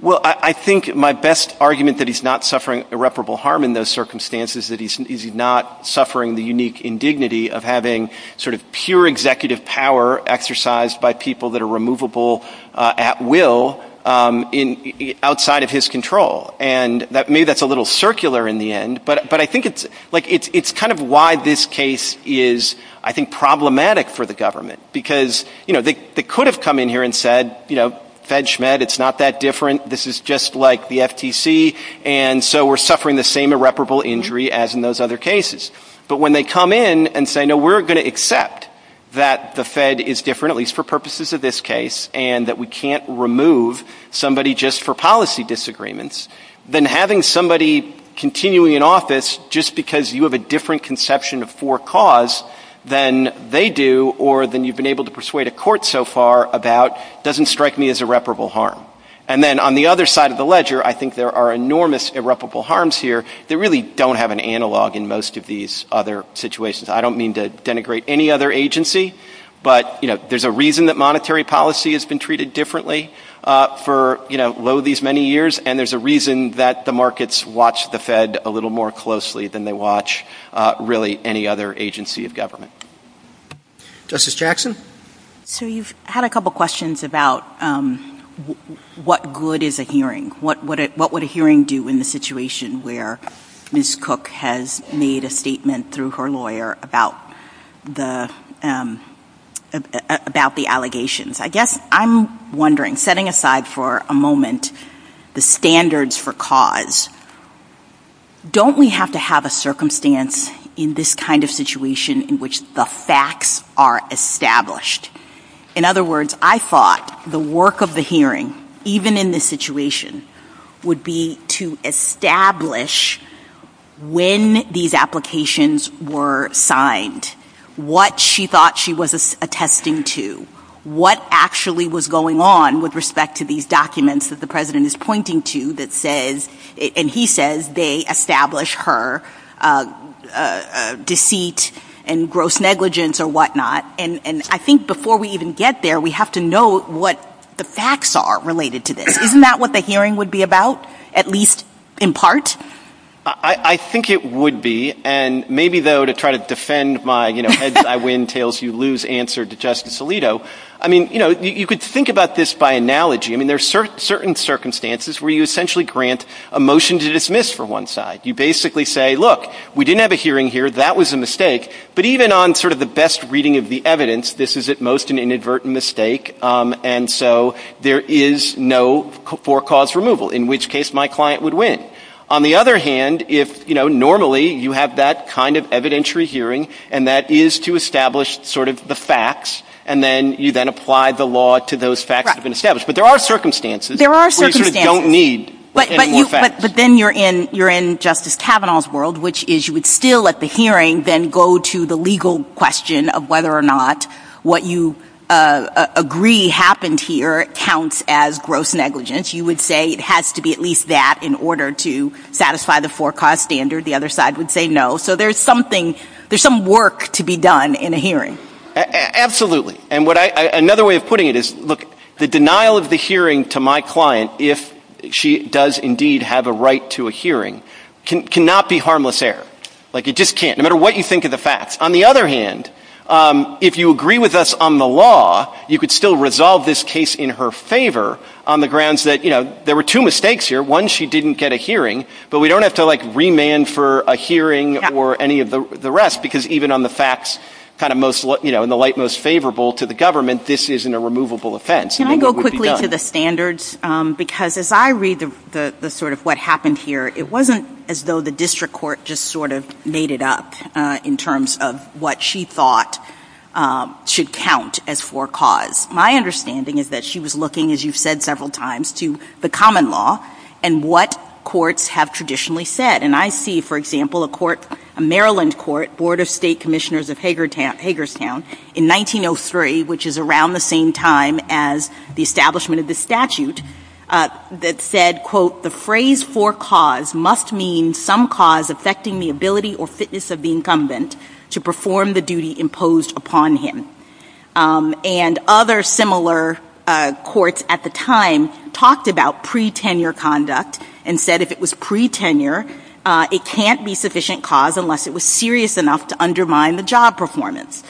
Well, I think my best argument that he's not suffering irreparable harm in those circumstances is that he's not suffering the unique indignity of having sort of pure executive power exercised by people that are removable at will outside of his control. And maybe that's a little circular in the end, but I think it's kind of why this case is, I think, problematic for the government. Because, you know, they could have come in here and said, you know, Fed Schmidt, it's not that different. This is just like the FTC, and so we're suffering the same irreparable injury as in those other cases. But when they come in and say, no, we're going to accept that the Fed is different, at least for purposes of this case, and that we can't remove somebody just for policy disagreements, then having somebody continually in office just because you have a different conception of forecause than they do or than you've been able to persuade a court so far about doesn't strike me as irreparable harm. And then on the other side of the ledger, I think there are enormous irreparable harms here that really don't have an analog in most of these other situations. I don't mean to denigrate any other agency, but, you know, there's a reason that monetary policy has been treated differently for, you know, low these many years, and there's a reason that the markets watch the Fed a little more closely than they watch really any other agency of government. Justice Jackson? So you've had a couple questions about what good is a hearing? What would a hearing do in the situation where Ms. Cook has made a statement through her lawyer about the allegations? I guess I'm wondering, setting aside for a moment the standards for cause, don't we have to have a circumstance in this kind of situation in which the facts are established? In other words, I thought the work of the hearing, even in this situation, would be to establish when these applications were signed, what she thought she was attesting to, what actually was going on with respect to these documents that the President is pointing to that says, and he says they establish her deceit and gross negligence or whatnot. And I think before we even get there, we have to know what the facts are related to this. Isn't that what the hearing would be about, at least in part? I think it would be, and maybe though to try to defend my heads I win, tails you lose answer to Justice Alito. I mean, you know, you could think about this by analogy. I mean, there's certain circumstances where you essentially grant a motion to dismiss for one side. You basically say, look, we didn't have a hearing here. That was a mistake. But even on sort of the best reading of the evidence, this is at most an inadvertent mistake. And so there is no for cause removal, in which case my client would win. On the other hand, if, you know, normally you have that kind of evidentiary hearing, and that is to establish sort of the facts, and then you then apply the law to those facts that have been established. But there are circumstances where you don't need any more facts. But then you're in Justice Kavanaugh's world, which is you would still at the hearing then go to the legal question of whether or not what you agree happened here counts as gross negligence. You would say it has to be at least that in order to satisfy the for cause standard. The other side would say no. So there's something, there's some work to be done in a hearing. Absolutely. And what I, another way of putting it is, look, the denial of the hearing to my client if she does indeed have a right to a hearing cannot be harmless error. Like it just can't, no matter what you think of the facts. On the other hand, if you agree with us on the law, you could still resolve this case in her favor on the grounds that, you know, there were two mistakes here. One, she didn't get a hearing, but we don't have to like remand for a hearing or any of the rest because even on the facts kind of most, you know, in the light most favorable to the government, this isn't a removable offense. Can I go quickly to the standards? Because as I read the sort of what happened here, it wasn't as though the district court just sort of made it up in terms of what she thought should count as for cause. My understanding is that she was looking, as you've said several times, to the common law and what courts have traditionally said. And I see, for example, a court, a Maryland court, Board of State Commissioners of Hagerstown in 1903, which is around the same time as the establishment of the statute, that said, quote, the phrase for cause must mean some cause affecting the ability or fitness of the incumbent to perform the duty imposed upon him. And other similar courts at the time talked about pre-tenure conduct and said if it was pre-tenure, it can't be sufficient cause unless it was serious enough to undermine the job performance.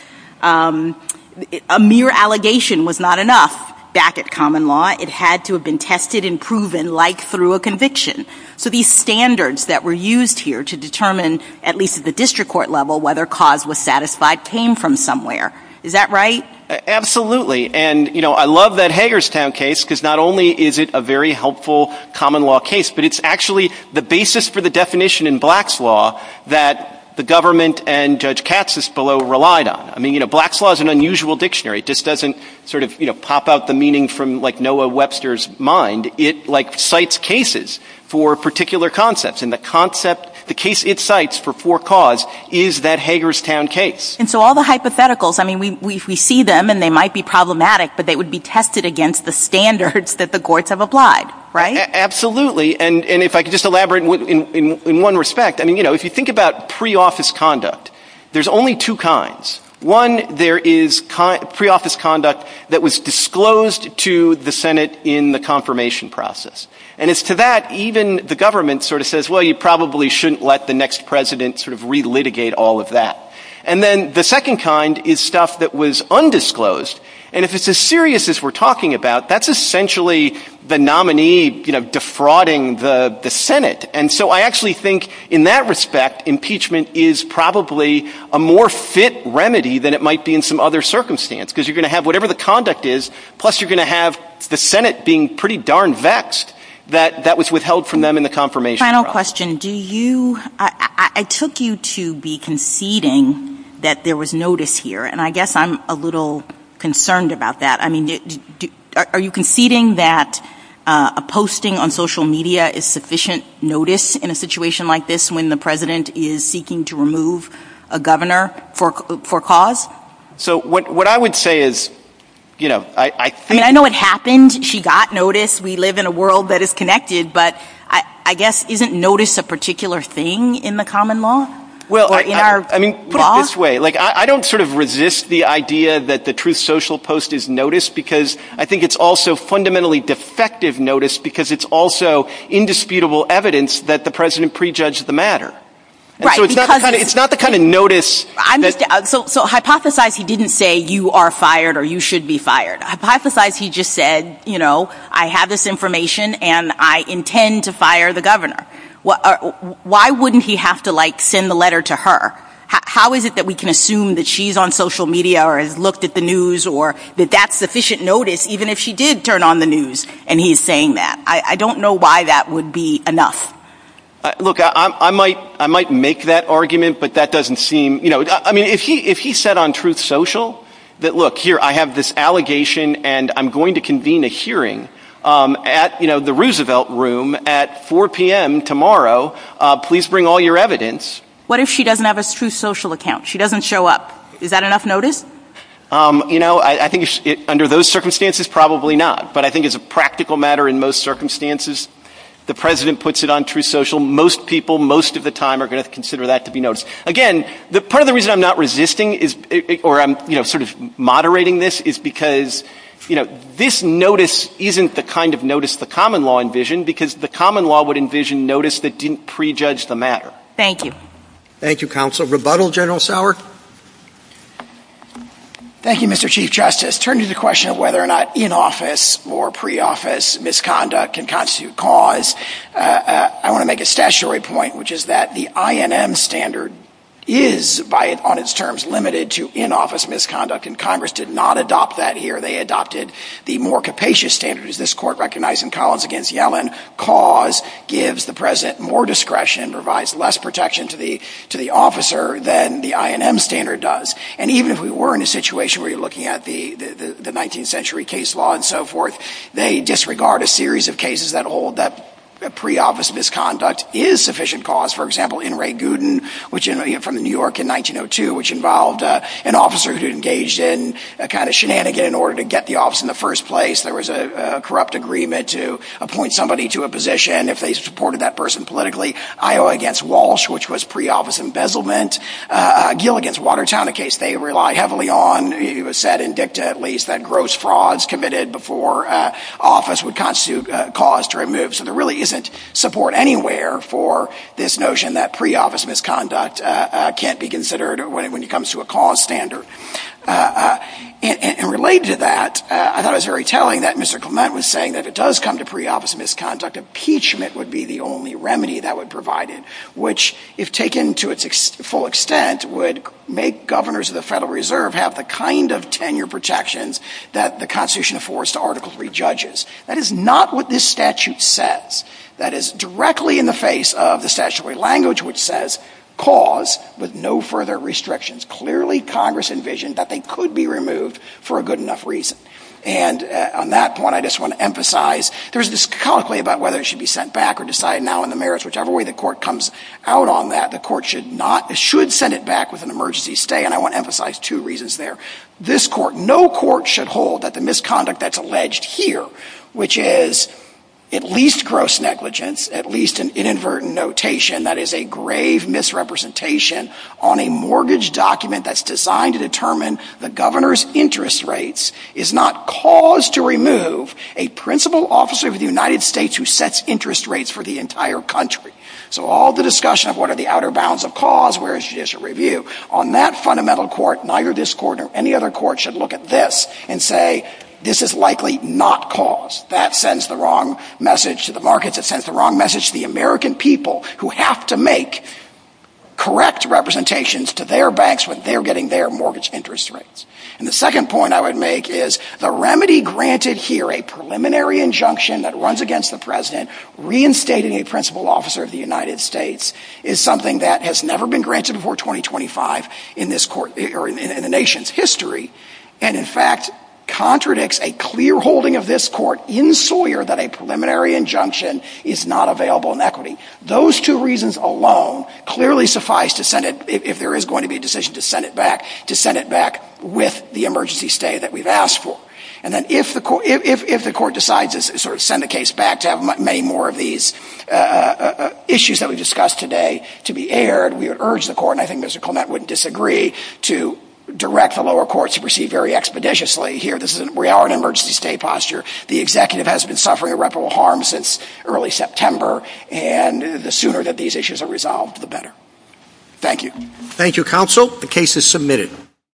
A mere allegation was not enough back at common law. It had to have been tested and proven like through a conviction. So these standards that were used here to determine, at least at the district court level, whether cause was satisfied came from somewhere. Is that right? Absolutely. And, you know, I love that Hagerstown case because not only is it a very helpful common law case, but it's actually the basis for the definition in Black's Law that the government and Judge Katsis below relied on. I mean, you know, Black's Law is an unusual dictionary. It just doesn't sort of, you know, pop out the meaning from like Noah Webster's mind. It like cites cases for particular concepts. And the concept, the case it cites for poor cause is that Hagerstown case. And so all the hypotheticals, I mean, we see them and they might be problematic, but they would be tested against the standards that the courts have applied, right? Absolutely. And if I could just elaborate in one respect, I mean, you know, if you think about pre-office conduct, there's only two kinds. One, there is pre-office conduct that was disclosed to the Senate in the confirmation process. And as to that, even the government sort of says, well, you probably shouldn't let the next president sort of re-litigate all of that. And then the second kind is stuff that was undisclosed. And if it's as serious as we're talking about, that's essentially the nominee, you know, defrauding the Senate. And so I actually think in that respect, impeachment is probably a more fit remedy than it might be in some other circumstance because you're going to have whatever the conduct is, plus you're going to have the Senate being pretty darn vexed that that was withheld from them in the confirmation process. I guess my question, do you, I took you to be conceding that there was notice here. And I guess I'm a little concerned about that. I mean, are you conceding that a posting on social media is sufficient notice in a situation like this when the president is seeking to remove a governor for cause? So what I would say is, you know, I think. I mean, I know it happened. She got notice. We live in a world that is connected. But I guess isn't notice a particular thing in the common law? Well, I mean, I don't sort of resist the idea that the truth social post is notice because I think it's also fundamentally defective notice because it's also indisputable evidence that the president prejudged the matter. It's not the kind of notice. So hypothesize he didn't say you are fired or you should be fired. Hypothesize he just said, you know, I have this information and I intend to fire the governor. Why wouldn't he have to like send the letter to her? How is it that we can assume that she's on social media or has looked at the news or that that's sufficient notice even if she did turn on the news and he's saying that? I don't know why that would be enough. Look, I might make that argument, but that doesn't seem, you know, I mean, if he if he said on truth social that, look here, I have this allegation and I'm going to convene a hearing at the Roosevelt Room at 4 p.m. tomorrow. Please bring all your evidence. What if she doesn't have a true social account? She doesn't show up. Is that enough notice? You know, I think under those circumstances, probably not. But I think it's a practical matter. In most circumstances, the president puts it on true social. Most people, most of the time are going to consider that to be noticed again. The part of the reason I'm not resisting is or I'm sort of moderating this is because, you know, this notice isn't the kind of notice the common law envisioned, because the common law would envision notice that didn't prejudge the matter. Thank you. Thank you, counsel. Rebuttal General Sauer. Thank you, Mr. Chief Justice. Turn to the question of whether or not in office or pre-office misconduct can constitute cause. I want to make a statutory point, which is that the INM standard is by on its terms limited to in-office misconduct. And Congress did not adopt that here. They adopted the more capacious standards. This court recognized in Collins against Yellen cause gives the president more discretion, provides less protection to the to the officer than the INM standard does. And even if we were in a situation where you're looking at the the 19th century case law and so forth, they disregard a series of cases that hold that pre-office misconduct is sufficient cause. For example, in Ray Gooden, which is from New York in 1902, which involved an officer who engaged in a kind of shenanigan in order to get the office in the first place. There was a corrupt agreement to appoint somebody to a position if they supported that person politically. Iowa against Walsh, which was pre-office embezzlement. Gill against Watertown, a case they rely heavily on. It was said in dicta, at least, that gross frauds committed before office would constitute cause to remove. So there really isn't support anywhere for this notion that pre-office misconduct can't be considered when it when it comes to a cause standard. And related to that, I thought it was very telling that Mr. Clement was saying that it does come to pre-office misconduct. Impeachment would be the only remedy that would provide it, which, if taken to its full extent, would make governors of the Federal Reserve have the kind of tenure protections that the Constitution affords to Article III judges. That is not what this statute says. That is directly in the face of the statutory language, which says cause with no further restrictions. Clearly, Congress envisioned that they could be removed for a good enough reason. And on that point, I just want to emphasize there's this colloquy about whether it should be sent back or decided now in the merits, whichever way the court comes out on that, the court should not. It should send it back with an emergency stay. And I want to emphasize two reasons there. This court, no court should hold that the misconduct that's alleged here, which is at least gross negligence, at least an inadvertent notation that is a grave misrepresentation on a mortgage document that's designed to determine the governor's interest rates, is not cause to remove a principal officer of the United States who sets interest rates for the entire country. So all the discussion of what are the outer bounds of cause, where is judicial review on that fundamental court? Neither this court or any other court should look at this and say, this is likely not cause. That sends the wrong message to the markets. It sends the wrong message to the American people who have to make correct representations to their banks when they're getting their mortgage interest rates. And the second point I would make is the remedy granted here, a preliminary injunction that runs against the president. Reinstating a principal officer of the United States is something that has never been granted before 2025 in this court or in the nation's history, and in fact, contradicts a clear holding of this court in Sawyer that a preliminary injunction is not available in equity. Those two reasons alone clearly suffice to send it if there is going to be a decision to send it back, to send it back with the emergency stay that we've asked for. And then if the court decides to sort of send the case back to have many more of these issues that we discussed today to be aired, we would urge the court, and I think that would disagree to direct the lower courts to proceed very expeditiously here. This is where our emergency stay posture. The executive has been suffering irreparable harm since early September. And the sooner that these issues are resolved, the better. Thank you. Thank you, counsel. The case is submitted.